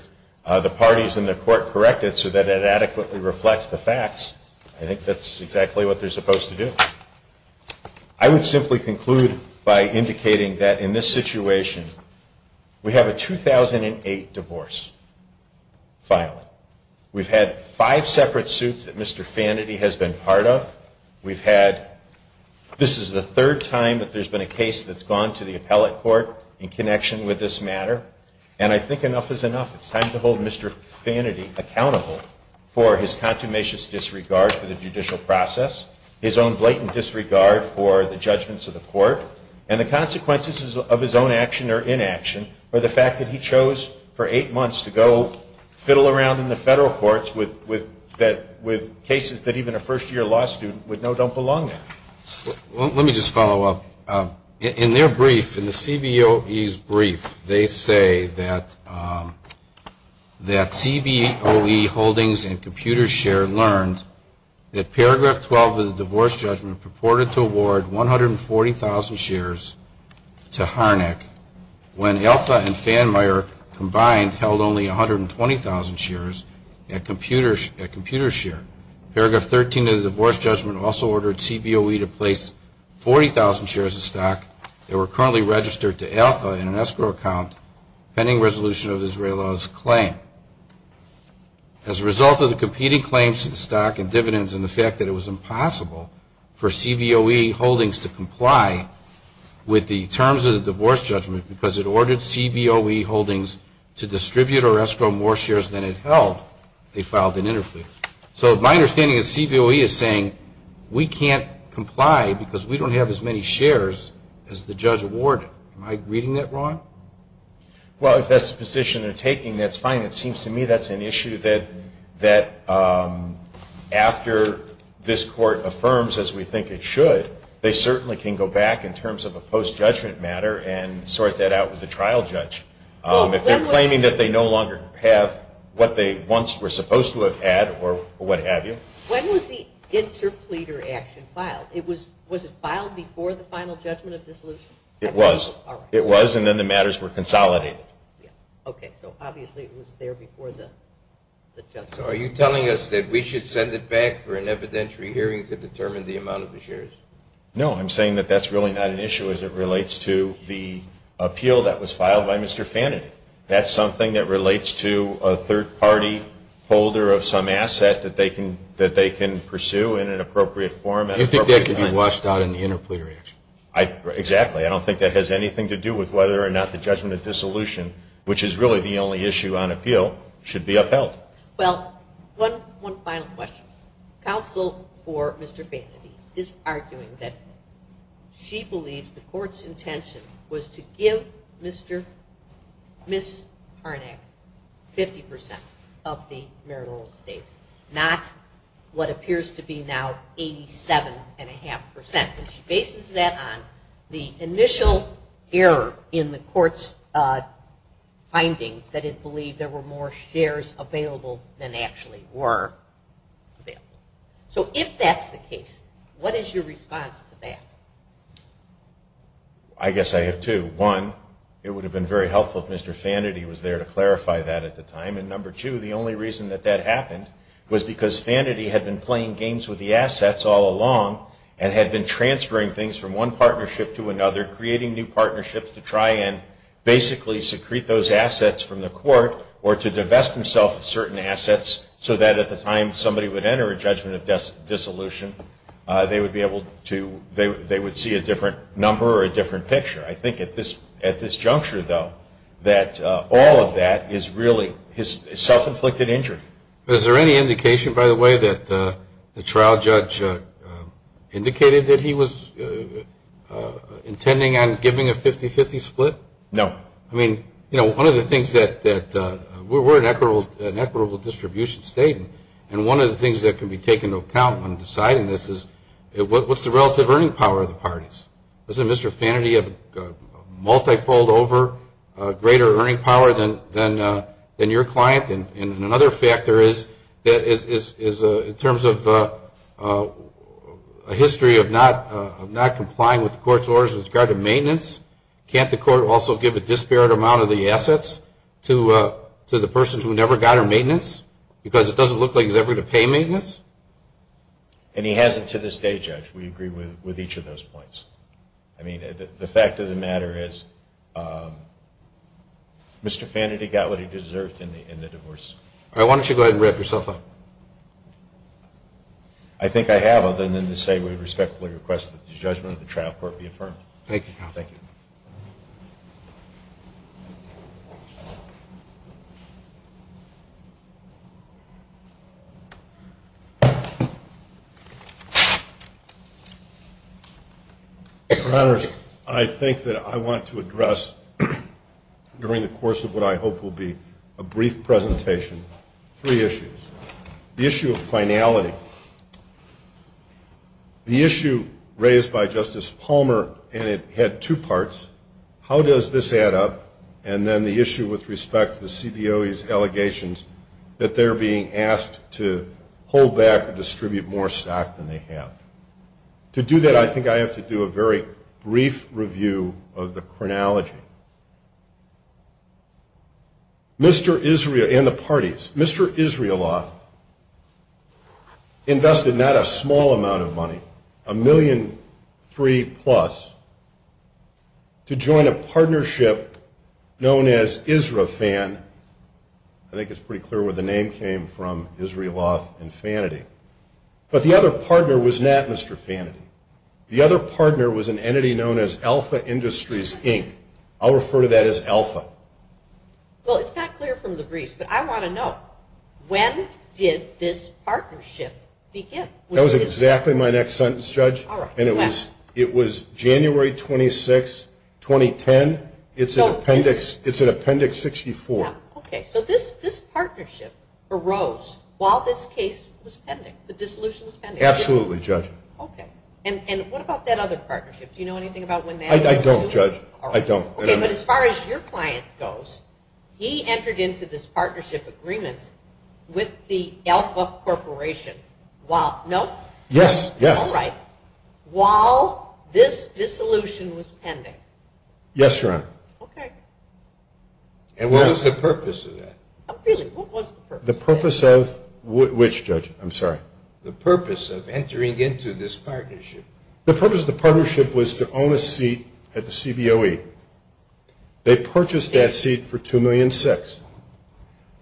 the parties in the court correct it so that it adequately reflects the facts, I think that's exactly what they're supposed to do. I would simply conclude by indicating that, in this situation, we have a 2008 divorce filing. We've had five separate suits that Mr. Fanady has been part of. We've had... And I think enough is enough. It's time to hold Mr. Fanady accountable for his consummation disregard for the judicial process, his own blatant disregard for the judgments of the court, and the consequences of his own action or inaction for the fact that he chose for eight months to go fiddle around in the federal courts with cases that even a first-year law student would know don't belong there. Let me just follow up. In their brief, in the CBOE's brief, they say that CBOE holdings and computer share learned that paragraph 12 of the divorce judgment purported to award 140,000 shares to Harnack when Elta and Fanmayer combined held only 120,000 shares at computer share. Paragraph 13 of the divorce judgment also ordered CBOE to place 40,000 shares of stock that were currently registered to Elta in an escrow account pending resolution of this very law's claim. As a result of the competing claims to the stock and dividends and the fact that it was impossible for CBOE holdings to comply with the terms of the divorce judgment because it ordered CBOE holdings to distribute or escrow more shares than it held, they filed an interference. So my understanding is CBOE is saying we can't comply because we don't have as many shares as the judge awarded. Am I reading that wrong? Well, if that's the position they're taking, that's fine. It seems to me that's an issue that after this court affirms, as we think it should, they certainly can go back in terms of a post-judgment matter and sort that out with the trial judge. If they're claiming that they no longer have what they once were supposed to have had or what have you. When was the interpleader action filed? Was it filed before the final judgment of the solution? It was, and then the matters were consolidated. Okay, so obviously it was there before the judgment. So are you telling us that we should send it back for an evidentiary hearing to determine the amount of the shares? No, I'm saying that that's really not an issue as it relates to the appeal that was filed by Mr. Fanning. That's something that relates to a third-party folder of some asset that they can pursue in an appropriate form. You think that could be lost on an interpleader action? Exactly. I don't think that has anything to do with whether or not the judgment of dissolution, which is really the only issue on appeal, should be upheld. One final question. Counsel for Mr. Fanning is arguing that she believes the court's intention was to give Ms. Harnack 50% of the marital estate, not what appears to be now 87.5%. And she bases that on the initial error in the court's finding, that it believed there were more shares available than actually were available. So if that's the case, what is your response to that? I guess I have two. One, it would have been very helpful if Mr. Fannity was there to clarify that at the time. And number two, the only reason that that happened was because Fannity had been playing games with the assets all along and had been transferring things from one partnership to another, creating new partnerships to try and basically secrete those assets from the court or to divest himself of certain assets so that at the time somebody would enter a judgment of dissolution, they would see a different number or a different picture. I think at this juncture, though, that all of that is really self-inflicted injury. Is there any indication, by the way, that the trial judge indicated that he was intending on giving a 50-50 split? No. I mean, you know, one of the things that we're an equitable distribution state, and one of the things that can be taken into account when deciding this is what's the relative earning power of the parties? Isn't Mr. Fannity a multifold over greater earning power than your client? And another factor is in terms of a history of not complying with the court's orders with regard to maintenance, can't the court also give a disparate amount of the assets to the person who never got her maintenance because it doesn't look like he's ever going to pay maintenance? And he hasn't to this day, Jeff. We agree with each of those points. I mean, the fact of the matter is Mr. Fannity got what he deserved in the divorce. All right. Why don't you go ahead and wrap yourself up? I think I have other than to say we respectfully request that the judgment of the trial court be affirmed. Thank you. Thank you. Your Honor, I think that I want to address during the course of what I hope will be a brief presentation three issues. The issue of finality. The issue raised by Justice Palmer, and it had two parts, how does this add up, and then the issue with respect to the CBO's allegations that they're being asked to hold back or distribute more stock than they have. To do that, I think I have to do a very brief review of the chronology. Mr. Israel and the parties, Mr. Israeloff invested not a small amount of money, a million three-plus, to join a partnership known as ISRAFAN. I think it's pretty clear where the name came from, Israeloff and Fannity. But the other partner was not Mr. Fannity. The other partner was an entity known as Alpha Industries, Inc. I'll refer to that as Alpha. Well, it's not clear from the brief, but I want to know, when did this partnership begin? That was exactly my next sentence, Judge. All right. It was January 26, 2010. It's in Appendix 64. Okay. So this partnership arose while this case was pending, the dissolution was pending. Absolutely, Judge. Okay. And what about that other partnership? Do you know anything about when that was? I don't, Judge. I don't. Okay. But as far as your client goes, he entered into this partnership agreement with the Alpha Corporation. No? Yes. All right. While this dissolution was pending. Yes, Your Honor. Okay. And what was the purpose of that? What was the purpose? The purpose of which, Judge? I'm sorry. The purpose of entering into this partnership. The purpose of the partnership was to own a seat at the CBOE. They purchased that seat for $2 million.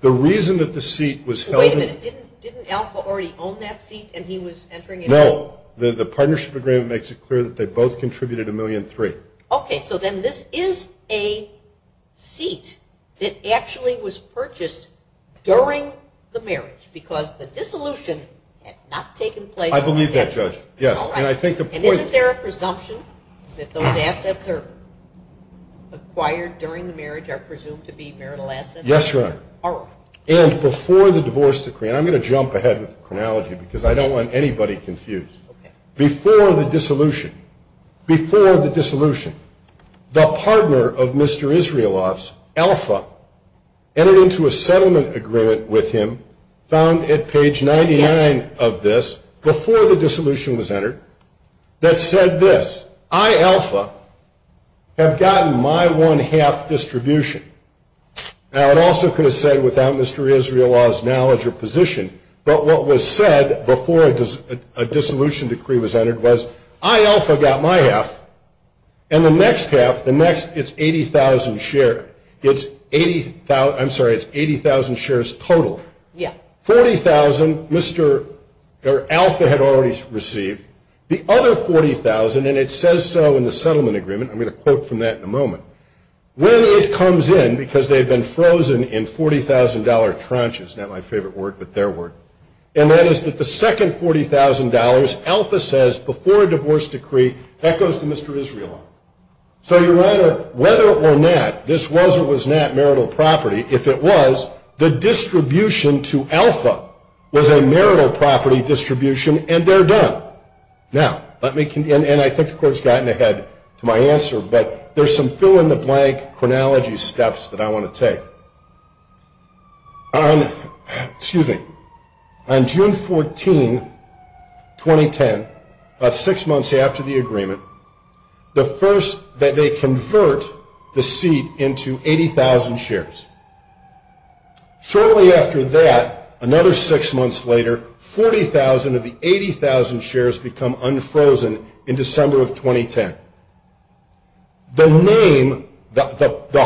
The reason that the seat was held in... Wait a minute. Didn't Alpha already own that seat and he was entering into it? No. The partnership agreement makes it clear that they both contributed $1.3 million. Okay. So then this is a seat that actually was purchased during the marriage because the dissolution had not taken place... I believe that, Judge. Yes. All right. And isn't there a presumption that those assets are acquired during the marriage are presumed to be marital assets? Yes, Your Honor. All right. And before the divorce decree, and I'm going to jump ahead with the chronology because I don't want anybody confused. Okay. Before the dissolution, before the dissolution, the partner of Mr. Israeloff's, Alpha, entered into a settlement agreement with him found at page 99 of this, before the dissolution was entered, that said this, I, Alpha, have gotten my one-half distribution. Now, it also could have said, without Mr. Israeloff's knowledge or position, but what was said before a dissolution decree was entered was, I, Alpha, got my half, and the next half, the next, it's 80,000 shares. It's 80,000, I'm sorry, it's 80,000 shares total. Yes. 40,000, Alpha had already received. The other 40,000, and it says so in the settlement agreement, I'm going to quote from that in a moment, when it comes in, because they had been frozen in $40,000 tranches, not my favorite word, but their word, and that is that the second $40,000, Alpha says, before a divorce decree, that goes to Mr. Israeloff. So, whether or not this was or was not marital property, if it was, the distribution to Alpha was a marital property distribution, and they're done. Now, let me continue, and I think the Court's gotten ahead to my answer, but there's some fill-in-the-blank chronology steps that I want to take. Excuse me. On June 14, 2010, about six months after the agreement, the first that they convert the seat into 80,000 shares. Shortly after that, another six months later, 40,000 of the 80,000 shares become unfrozen in December of 2010. The name, the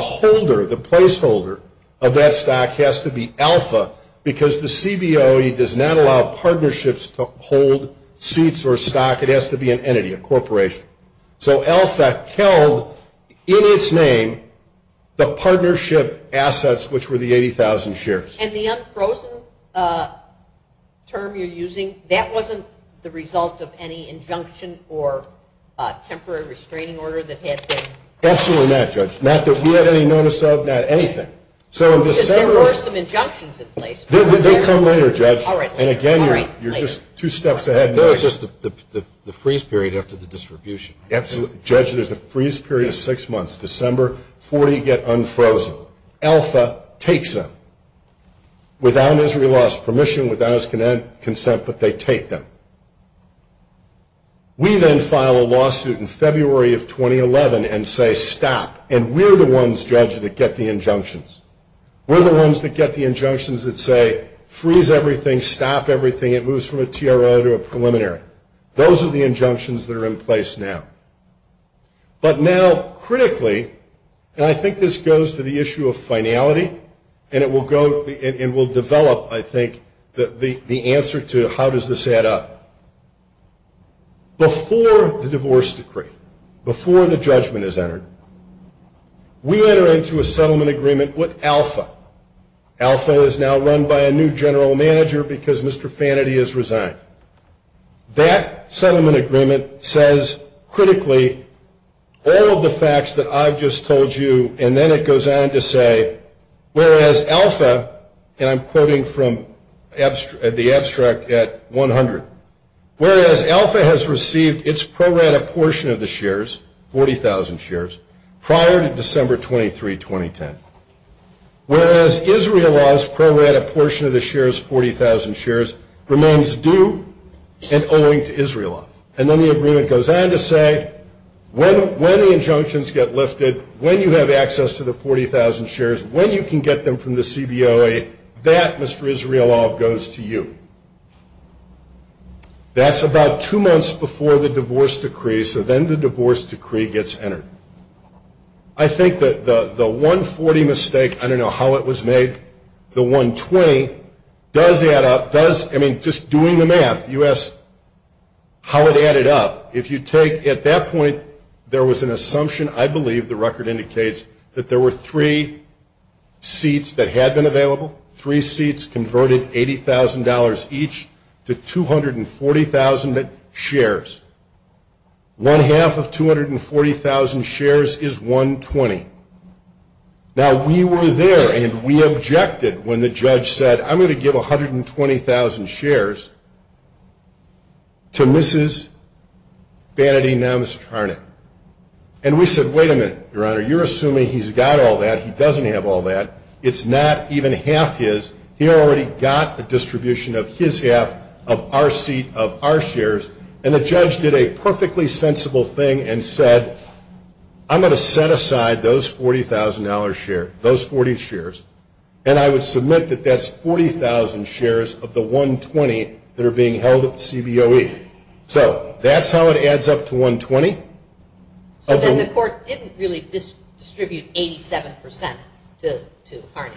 holder, the placeholder of that stock has to be Alpha, because the CBOE does not allow partnerships to hold seats or stock. It has to be an entity, a corporation. So, Alpha tells, in its name, the partnership assets, which were the 80,000 shares. And the unfrozen term you're using, that wasn't the result of any injunction or temporary restraining order that had been? Absolutely not, Judge. Not that we had any notice of, not anything. There were some injunctions in place. They come later, Judge. All right. And again, you're just two steps ahead. No, it's just the freeze period after the distribution. Absolutely. Judge, there's a freeze period of six months, December, 40 get unfrozen. Alpha takes them. Without Missouri law's permission, without its consent, but they take them. We then file a lawsuit in February of 2011 and say, stop. And we're the ones, Judge, that get the injunctions. We're the ones that get the injunctions that say, freeze everything, stop everything. It moves from a TRO to a preliminary. Those are the injunctions that are in place now. But now, critically, and I think this goes to the issue of finality, and it will develop, I think, the answer to how does this add up. Before the divorce decree, before the judgment is entered, we enter into a settlement agreement with Alpha. Alpha is now run by a new general manager because Mr. Fanaty has resigned. That settlement agreement says, critically, all of the facts that I've just told you, and then it goes on to say, whereas Alpha, and I'm quoting from the abstract at 100, whereas Alpha has received its pro-rata portion of the shares, 40,000 shares, prior to December 23, 2010, whereas Israel law's pro-rata portion of the shares, 40,000 shares, remains due and owing to Israel law. And then the agreement goes on to say, when the injunctions get lifted, when you have access to the 40,000 shares, when you can get them from the CBOA, that, Mr. Israel law, goes to you. That's about two months before the divorce decree, so then the divorce decree gets entered. I think that the 140 mistake, I don't know how it was made, the 120, does add up. I mean, just doing the math, you ask how it added up. If you take, at that point, there was an assumption, I believe, the record indicates, that there were three seats that had been available, three seats converted $80,000 each to 240,000 shares. One half of 240,000 shares is 120. Now, we were there, and we objected when the judge said, I'm going to give 120,000 shares to Mrs. Vanity Namastarnik. And we said, wait a minute, Your Honor, you're assuming he's got all that. He doesn't have all that. It's not even half his. He already got the distribution of his half of our seat of our shares, and the judge did a perfectly sensible thing and said, I'm going to set aside those $40,000 shares, those 40 shares, and I would submit that that's 40,000 shares of the 120 that are being held at CBOE. So that's how it adds up to 120. So then the court didn't really distribute 87% to Arnie.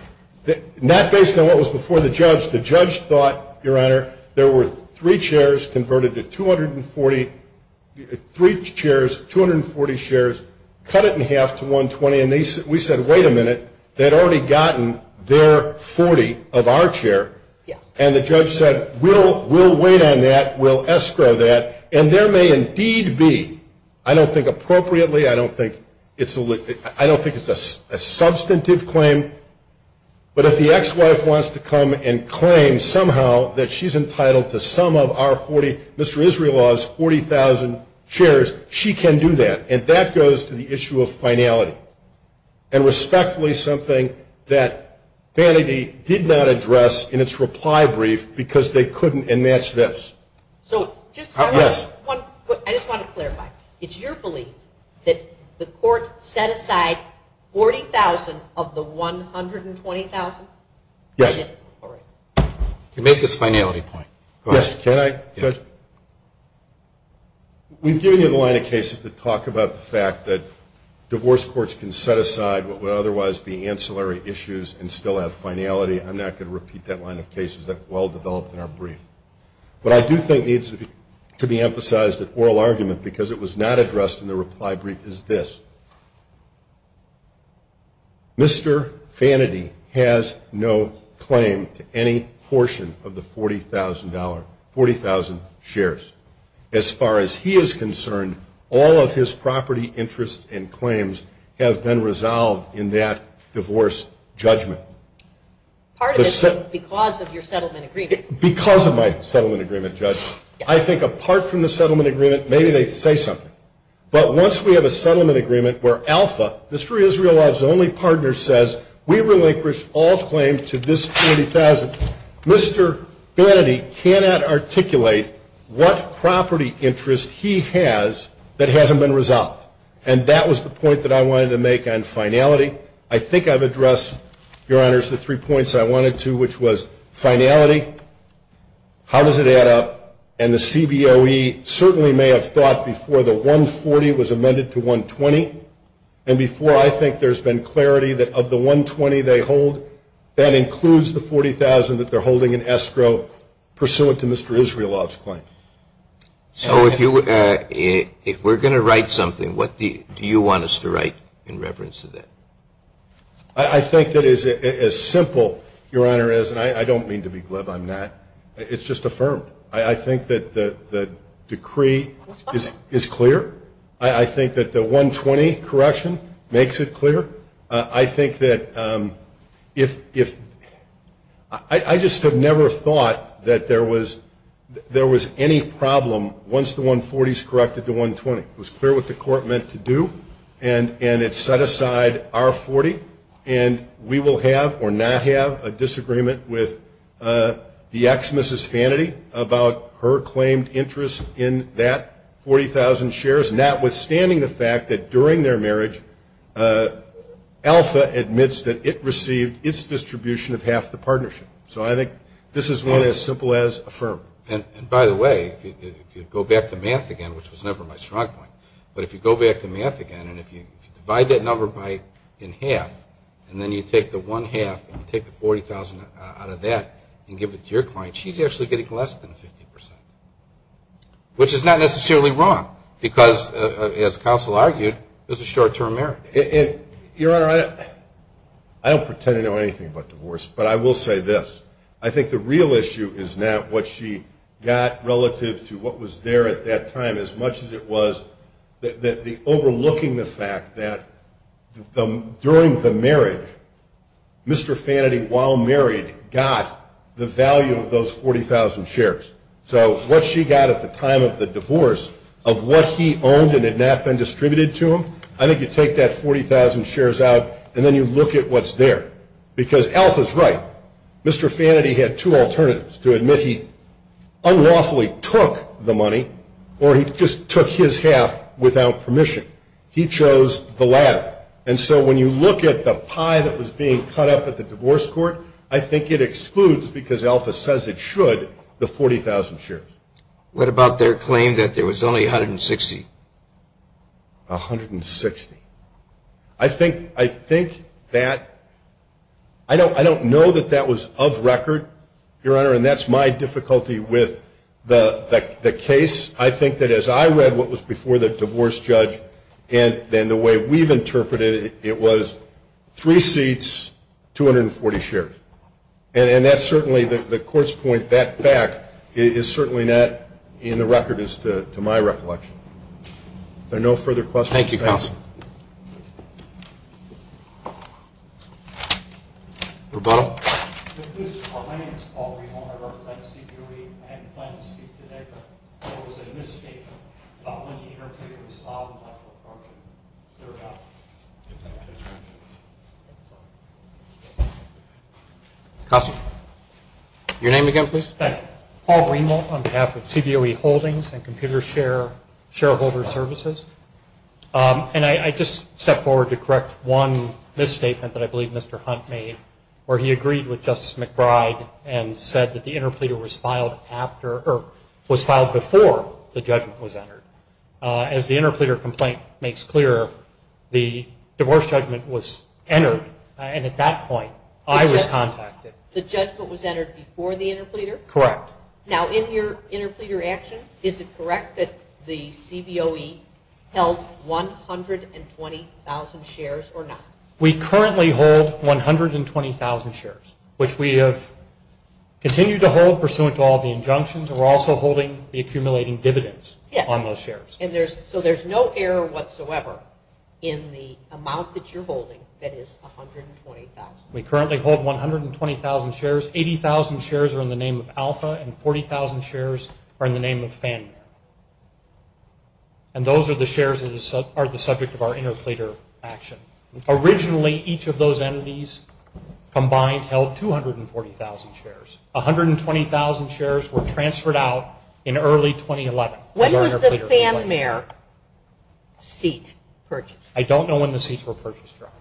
Not based on what was before the judge. The judge thought, Your Honor, there were three chairs converted to 240, three chairs, 240 shares, cut it in half to 120, and we said, wait a minute, they'd already gotten their 40 of our share. And the judge said, we'll wait on that. We'll escrow that. And there may indeed be, I don't think appropriately, I don't think it's a substantive claim, but if the ex-wife wants to come and claim somehow that she's entitled to some of Mr. Israelov's 40,000 shares, she can do that. And that goes to the issue of finality. And respectfully, something that Vanity did not address in its reply brief because they couldn't enmatch this. I just want to clarify. It's your belief that the court set aside 40,000 of the 120,000? Yes. To make this finality point. Yes. We do have a line of cases that talk about the fact that divorce courts can set aside what would otherwise be ancillary issues and still have finality. I'm not going to repeat that line of cases. That's well developed in our brief. What I do think needs to be emphasized in oral argument because it was not addressed in the reply brief is this. Mr. Vanity has no claim to any portion of the $40,000, 40,000 shares. As far as he is concerned, all of his property interests and claims have been resolved in that divorce judgment. Part of it is because of your settlement agreement. Because of my settlement agreement, Judge, I think apart from the settlement agreement, maybe they say something. But once we have a settlement agreement where alpha, the Free Israel Law's only partner, says we relinquish all claims to this $40,000, Mr. Vanity cannot articulate what property interest he has that hasn't been resolved. And that was the point that I wanted to make on finality. I think I've addressed, Your Honors, the three points I wanted to, which was finality, how does it add up, and the CBOE certainly may have thought before the $140,000 was amended to $120,000, and before I think there's been clarity that of the $120,000 they hold, that includes the $40,000 that they're holding in escrow pursuant to Mr. Israeloff's claim. So if we're going to write something, what do you want us to write in reference to that? I think that as simple, Your Honor, as, and I don't mean to be glib on that, it's just affirmed. I think that the decree is clear. I think that the $120,000 correction makes it clear. I think that if, I just have never thought that there was any problem once the $140,000 is corrected to $120,000. It was clear what the court meant to do, and it set aside our $40,000, and we will have or not have a disagreement with the ex-Mrs. Vanity about her claimed interest in that $40,000 shares, and that withstanding the fact that during their marriage, Alpha admits that it received its distribution of half the partnership. So I think this is one as simple as affirmed. And by the way, if you go back to math again, which was never my strong point, but if you go back to math again and if you divide that number in half, and then you take the one half and take the $40,000 out of that and give it to your client, she's actually getting less than 50%, which is not necessarily wrong, because as counsel argued, this is short-term marriage. Your Honor, I don't pretend to know anything about divorce, but I will say this. I think the real issue is not what she got relative to what was there at that time, as much as it was that the overlooking the fact that during the marriage, Mr. Vanity, while married, got the value of those $40,000 shares. So what she got at the time of the divorce of what he owned and had not been distributed to him, I think you take that $40,000 shares out and then you look at what's there. Because Alpha's right. Mr. Vanity had two alternatives, to admit he unlawfully took the money or he just took his half without permission. He chose the latter. And so when you look at the pie that was being cut up at the divorce court, I think it excludes, because Alpha says it should, the $40,000 shares. What about their claim that there was only $160,000? $160,000. I don't know that that was of record, Your Honor, and that's my difficulty with the case. I think that as I read what was before the divorce judge and the way we've interpreted it, it was three seats, 240 shares. And that's certainly the court's point. That fact is certainly not in the record as to my recollection. Thank you, counsel. Yes, sir. Go ahead. My name is Paul Riemel. I work at CBOE. I have a claim to speak today. I was in this case when the interpreter saw my report. Counsel. Your name again, please. Paul Riemel on behalf of CBOE Holdings and Computer Shareholder Services. And I just step forward to correct one misstatement that I believe Mr. Hunt made where he agreed with Justice McBride and said that the interpreter was filed after or was filed before the judgment was entered. As the interpreter complaint makes clear, the divorce judgment was entered, and at that point I was contacted. The judgment was entered before the interpreter? Correct. Now, in your interpreter action, is it correct that the CBOE held 120,000 shares or not? We currently hold 120,000 shares, which we have continued to hold pursuant to all the injunctions. We're also holding the accumulating dividends on those shares. Yes. So there's no error whatsoever in the amount that you're holding that is 120,000. We currently hold 120,000 shares. 80,000 shares are in the name of Alpha, and 40,000 shares are in the name of Fanmare. And those are the shares that are the subject of our interpreter action. Originally, each of those entities combined held 240,000 shares. 120,000 shares were transferred out in early 2011. When was the Fanmare seat purchased? I don't know when the seats were purchased, Your Honor.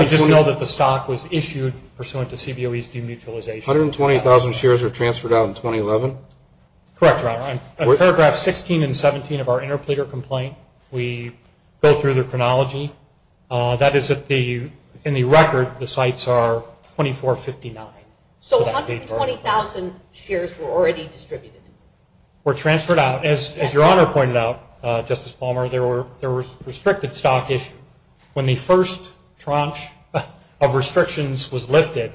We just know that the stock was issued pursuant to CBOE's demutualization. 120,000 shares were transferred out in 2011? Correct, Your Honor. In paragraphs 16 and 17 of our interpreter complaint, we go through the chronology. That is, in the record, the sites are 2459. So 120,000 shares were already distributed? Were transferred out. As Your Honor pointed out, Justice Palmer, there were restricted stock issues. When the first tranche of restrictions was lifted,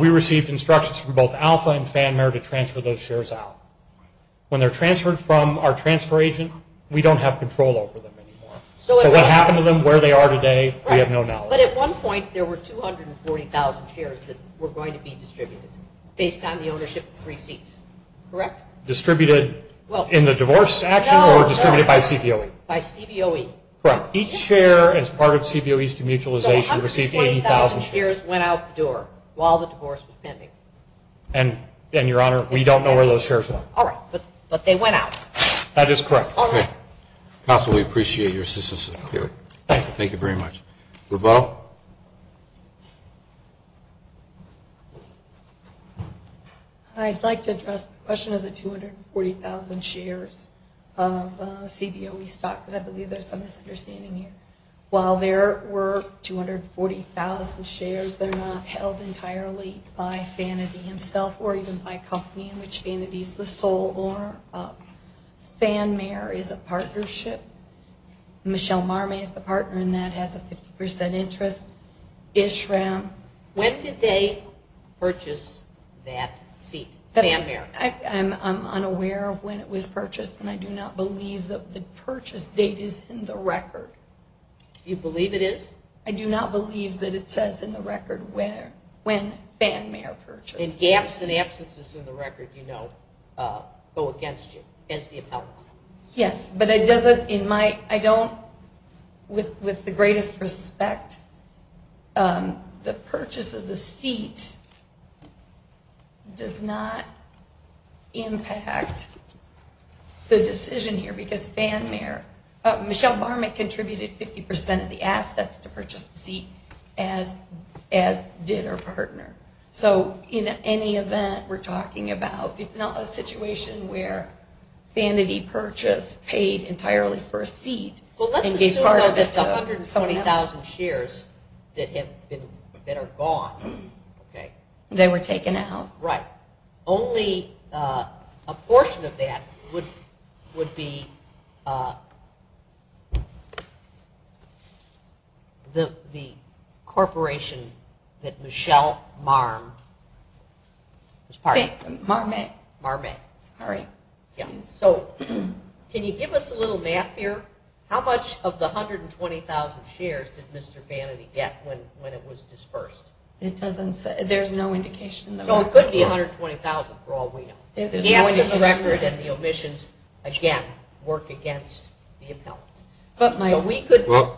we received instructions from both Alpha and Fanmare to transfer those shares out. When they're transferred from our transfer agent, we don't have control over them anymore. So what happened to them, where they are today, we have no knowledge. But at one point, there were 240,000 shares that were going to be distributed, based on the ownership of three seats, correct? Distributed in the divorce statute or distributed by CBOE? By CBOE. Correct. Each share as part of CBOE's demutualization received 80,000 shares. So 120,000 shares went out the door while the divorce was pending. And, Your Honor, we don't know where those shares went. All right. But they went out. That is correct. Okay. Counsel, we appreciate your assistance here. Thank you very much. Laveau? I'd like to address the question of the 240,000 shares of CBOE stock, because I believe there's some misunderstanding here. While there were 240,000 shares, they're not held entirely by Fanmare itself or even by a company in which Fanmare is the sole owner. Fanmare is a partnership. Michelle Marmon is a partner in that, has a 50% interest rate. When did they purchase that fee? Fanmare. I'm unaware of when it was purchased, and I do not believe that the purchase date is in the record. You believe it is? I do not believe that it says in the record when Fanmare purchased. And gaps and absences in the record, you know, go against the appellate. Yes. But I don't, with the greatest respect, the purchase of the seat does not impact the decision here, because Fanmare, Michelle Marmon contributed 50% of the assets to purchase the seat, as did her partner. So in any event, we're talking about, it's not a situation where vanity purchase paid entirely for a seat and gave part of it to 120,000 shares that are gone. They were taken out. Right. Only a portion of that would be the corporation that Michelle Marmon is part of. Marmon? Marmon. All right. Yeah. So can you give us a little math here? How much of the 120,000 shares did Mr. Vanity get when it was disbursed? It doesn't say. There's no indication. So it could be 120,000 for all we know. The absence of the record and the omissions, again, work against the appellate.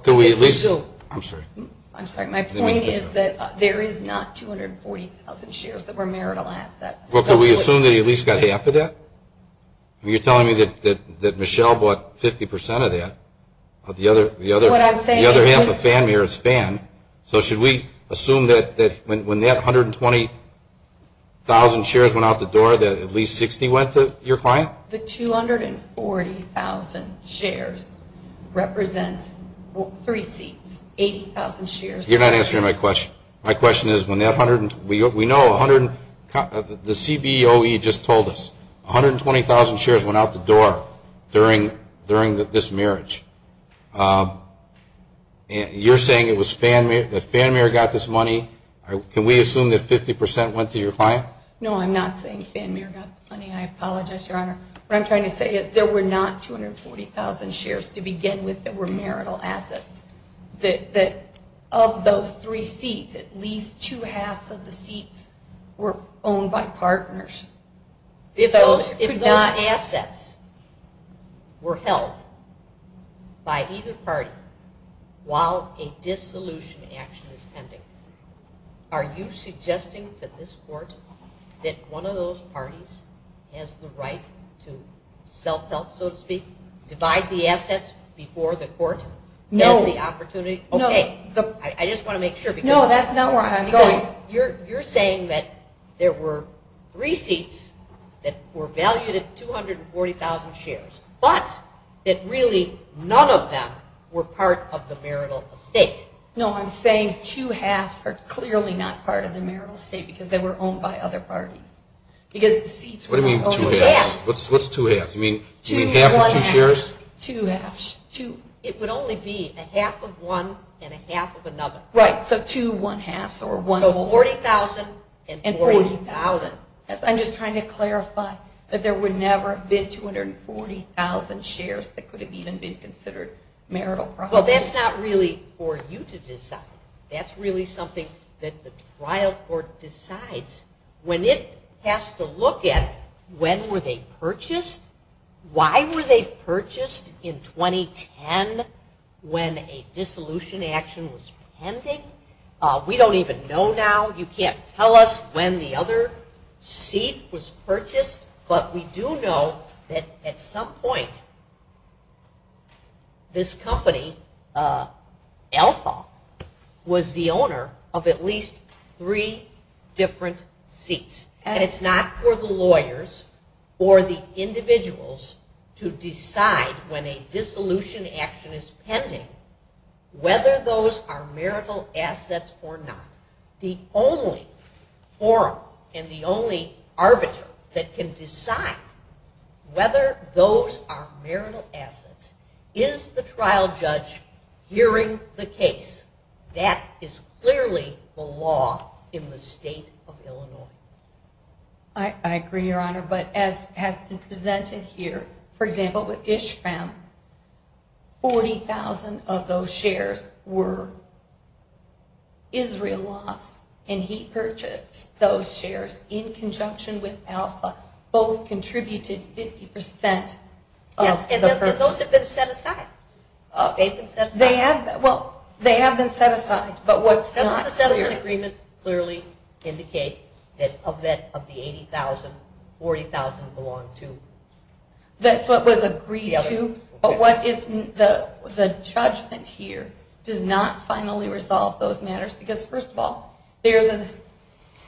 Can we at least? I'm sorry. I'm sorry. What I'm saying is that there is not 240,000 shares that were marital assets. Well, can we assume that he at least got half of that? You're telling me that Michelle bought 50% of that, but the other half of Fanmare is Fan. So should we assume that when that 120,000 shares went out the door, that at least 60 went to your client? The 240,000 shares represent 80,000 shares. You're not answering my question. My question is, we know the CBOE just told us 120,000 shares went out the door during this marriage. You're saying that Fanmare got this money. Can we assume that 50% went to your client? No, I'm not saying Fanmare got this money. I apologize, Your Honor. What I'm trying to say is there were not 240,000 shares to begin with that were marital assets. Of those three seats, at least two-halves of the seats were owned by partners. If those assets were held by either party while a dissolution action is pending, are you suggesting that this Court, that one of those parties has the right to self-help, so to speak, divide the assets before the Court? No. That's the opportunity? No. I just want to make sure. No, that's not what I'm saying. You're saying that there were three seats that were valued at 240,000 shares, but that really none of them were part of the marital estate. No, I'm saying two-halves are clearly not part of the marital estate because they were owned by other parties. What do you mean two-halves? What's two-halves? Do you mean half or two shares? Two-halves. It would only be a half of one and a half of another. Right. So two one-halves. So 40,000 and 40,000. I'm just trying to clarify that there would never have been 240,000 shares that could have even been considered marital property. Well, that's not really for you to decide. That's really something that the trial court decides. When it has to look at it, when were they purchased? Why were they purchased in 2010 when a dissolution action was pending? We don't even know now. But we do know that at some point this company, Alpha, was the owner of at least three different seats. And it's not for the lawyers or the individuals to decide when a dissolution action is pending whether those are marital assets or not. The only forum and the only arbiter that can decide whether those are marital assets is the trial judge hearing the case. That is clearly the law in the state of Illinois. I agree, Your Honor, but as has been presented here, for example, with Ishram, 40,000 of those shares were Israel loss, and he purchased those shares in conjunction with Alpha. Both contributed 50% of the purchase. And those have been set aside? Well, they have been set aside. But what's not clear clearly indicates that of the 80,000, 40,000 belong to. That's what was agreed to? But what is the judgment here to not finally resolve those matters? Because, first of all, there's an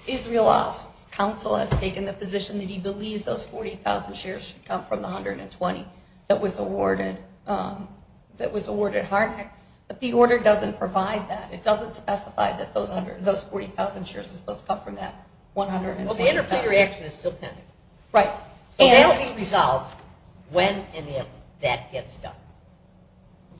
Israel loss. Counsel has taken the position that he believes those 40,000 shares should come from the 120 that was awarded Harnack. But the order doesn't provide that. It doesn't specify that those 40,000 shares are supposed to come from that 120. Well, the enterprise reaction is still pending. Right. And it will be resolved when and if that gets done.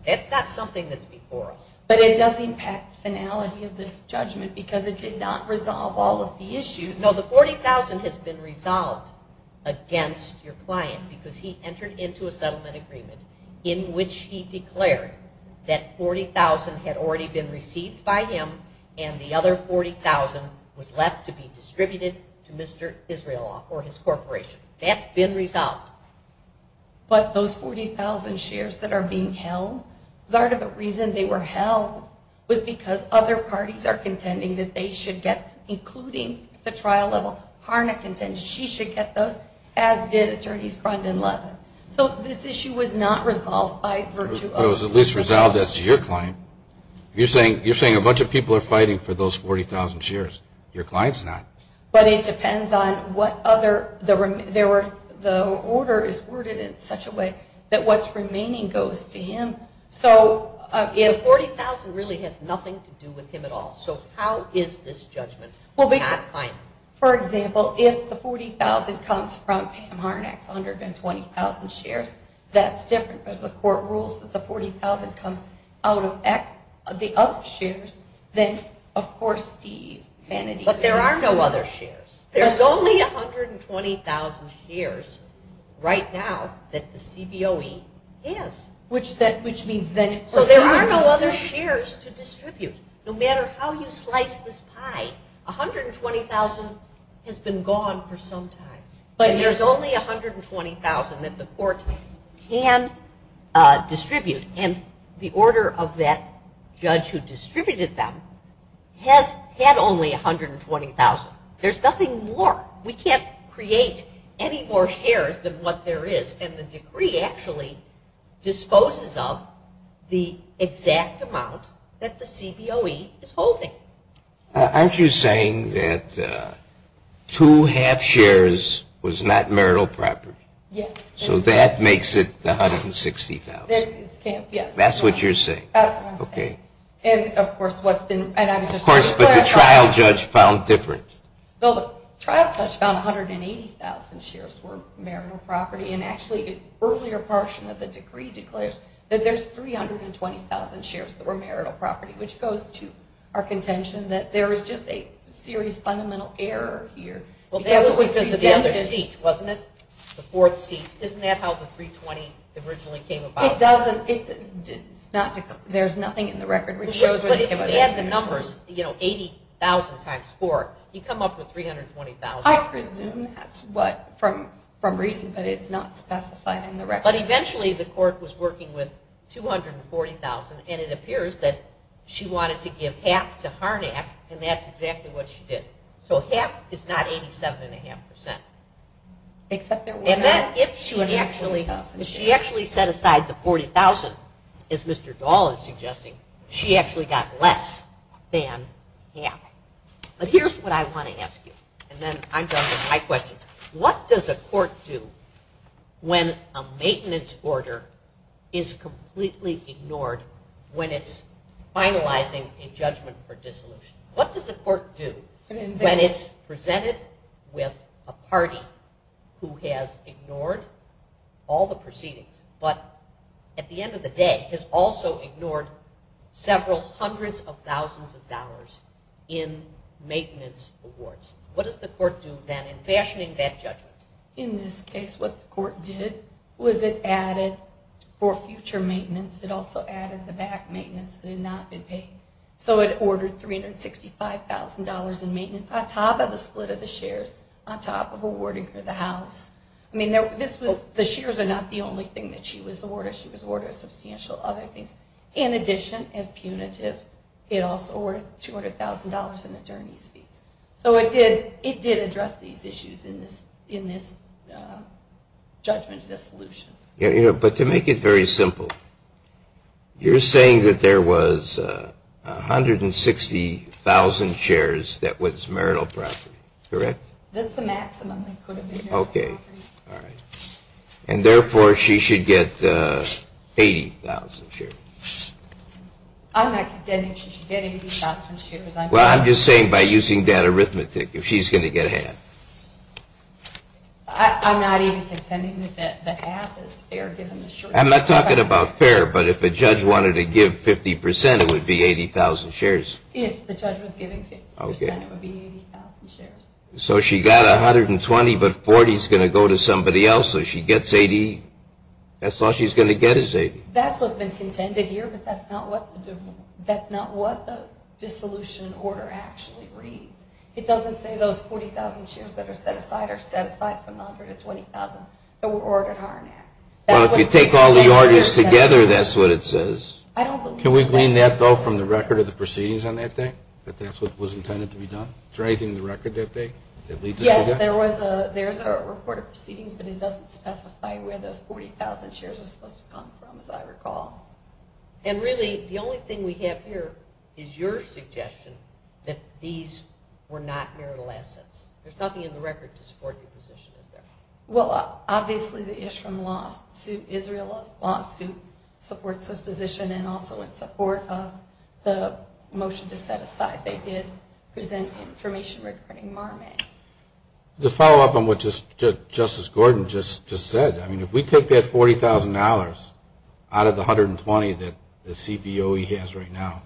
That's not something that's before us. But it doesn't impact the finality of this judgment because it did not resolve all of the issues. No, the 40,000 has been resolved against your client because he entered into a settlement agreement in which he declared that 40,000 had already been received by him and the other 40,000 was left to be distributed to Mr. Israeloff or his corporation. That's been resolved. But those 40,000 shares that are being held, part of the reason they were held was because other parties are contending that they should get, including the trial of Harnack, and then she should get those as did Attorneys Pratt and Levin. So this issue was not resolved by virtue of those. It was at least resolved as to your client. You're saying a bunch of people are fighting for those 40,000 shares. Your client's not. But it depends on what other, the order is worded in such a way that what's remaining goes to him. So if 40,000 really has nothing to do with him at all, so how is this judgment? For example, if the 40,000 comes from Harnack's 120,000 shares, that's different as the court rules that the 40,000 comes out of the other shares than, of course, these. But there are no other shares. There's only 120,000 shares right now that the CBOE gives. Yes. Which means that... So there are no other shares to distribute. No matter how you slice this pie, 120,000 has been gone for some time. But there's only 120,000 that the court can distribute. And the order of that judge who distributed them had only 120,000. There's nothing more. We can't create any more shares than what there is. And the decree actually disposes of the exact amount that the CBOE is holding. Aren't you saying that two-half shares was not marital property? Yes. So that makes it 160,000. That's what you're saying. And, of course, what's been... Of course, but the trial judge found different. The trial judge found 180,000 shares were marital property. And actually, an earlier portion of the decree declares that there's 320,000 shares that were marital property, which goes to our contention that there is just a serious fundamental error here. Well, that was because of the other cease, wasn't it? The fourth cease. Isn't that how the 320 originally came about? It doesn't. There's nothing in the record which shows... But if you had the numbers, you know, 80,000 times four, you'd come up with 320,000. That's what... From reasons that it's not specified in the record. But eventually, the court was working with 240,000, and it appears that she wanted to give half to Harnack, and that's exactly what she did. So half is not 87.5%. Except there was half. She actually set aside the 40,000, as Mr. Dahl is suggesting. She actually got less than half. But here's what I want to ask you, and then I'm done with my question. What does a court do when a maintenance order is completely ignored when it's finalizing a judgment for dissolution? What does a court do when it's presented with a party who has ignored all the proceedings, but at the end of the day has also ignored several hundreds of thousands of dollars in maintenance awards? What does the court do then in fashioning that judgment? In this case, what the court did was it added for future maintenance, it also added the back maintenance that had not been paid. So it ordered $365,000 in maintenance on top of the split of the shares, on top of awarding for the house. I mean, the shares are not the only thing that she was awarded. She was awarded a substantial other thing. In addition, as punitive, it also ordered $200,000 in attorney's fees. So it did address these issues in this judgment dissolution. But to make it very simple, you're saying that there was 160,000 shares that was marital property, correct? That's the maximum. Okay. And therefore, she should get 80,000 shares. I'm not saying she should get 80,000 shares. Well, I'm just saying by using that arithmetic, if she's going to get half. I'm not even contending that the half is fair given the shares. I'm not talking about fair, but if a judge wanted to give 50%, it would be 80,000 shares. Yes, if the judge was giving 50%, it would be 80,000 shares. So she got 120, but 40 is going to go to somebody else, so she gets 80. That's all she's going to get is 80. That's what's been contended here, but that's not what the dissolution order actually reads. It doesn't say those 40,000 shares that are set aside are set aside from the 120,000 that were ordered. Well, if you take all the orders together, that's what it says. Can we gain that vote from the record of the proceedings on that thing, that that's what was intended to be done? Yes, there's a report of proceedings, but it doesn't specify where the 40,000 shares are supposed to come from, as I recall. And really, the only thing we have here is your suggestion that these were not marital assets. There's nothing in the record to support the position of that. Well, obviously, the issue from lawsuit, Israel lawsuit, supports this position and also in support of the motion to set aside. They did present information regarding marriage. To follow up on what Justice Gordon just said, I mean, if we took that $40,000 out of the 120 that the CPOE has right now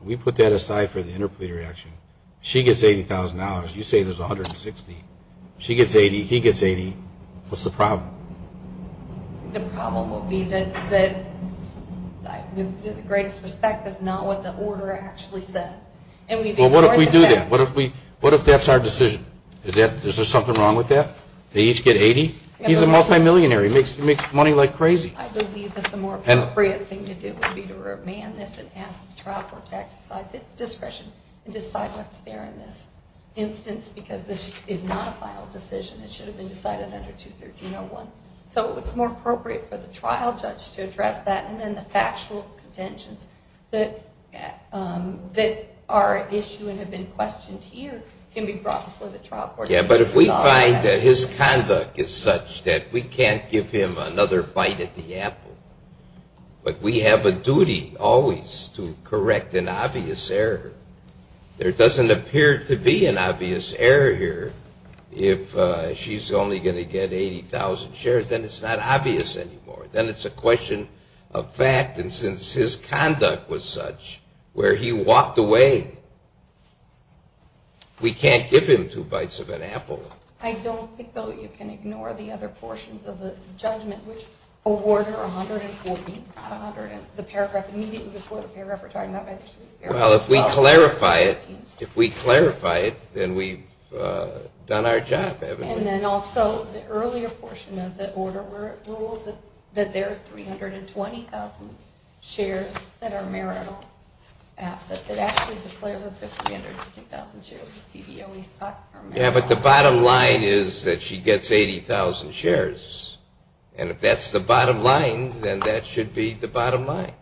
and we put that aside for the interplea reaction, she gets $80,000. You say there's 160. She gets 80, he gets 80. What's the problem? The problem will be that, in the greatest respect, that's not what the order actually says. Well, what if we do that? What if that's our decision? Is there something wrong with that? They each get 80? He's a multimillionaire. He makes money like crazy. I believe that the more appropriate thing to do would be for a man that's been asked to try for tax discretion and decide what's there in this instance, because this is not a final decision. It should have been decided under 213.01. So it's more appropriate for the trial judge to address that, and then the factual contentions that are issued and have been questioned here can be brought before the trial court. Yeah, but if we find that his conduct is such that we can't give him another fight at the apple, but we have a duty always to correct an obvious error. There doesn't appear to be an obvious error here. If she's only going to get 80,000 shares, then it's not obvious anymore. Then it's a question of fact. And since his conduct was such where he walked away, we can't give him two bites of an apple. I don't think, though, you can ignore the other portions of the judgment. The paragraph immediately before the fair repertory. Well, if we clarify it, then we've done our job, evidently. And then also the earlier portion of the order rules that there are 320,000 shares that are marital assets. It actually declares that there are 350,000 shares. Yeah, but the bottom line is that she gets 80,000 shares. And if that's the bottom line, then that should be the bottom line.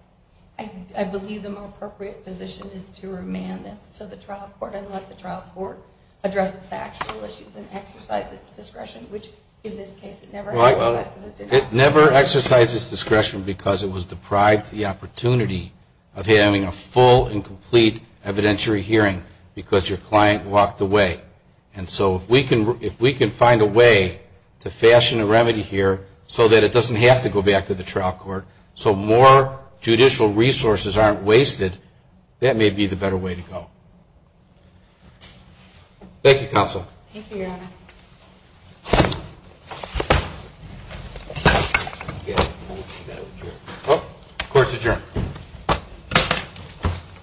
I believe the more appropriate position is to remand it so the trial court, unless the trial court addresses factual issues and exercises discretion, which in this case never has. It never exercises discretion because it was deprived the opportunity of having a full and complete evidentiary hearing because your client walked away. And so if we can find a way to fashion a remedy here so that it doesn't have to go back to the trial court, so more judicial resources aren't wasted, that may be the better way to go. Thank you, counsel. Thank you, Aaron. Court is adjourned.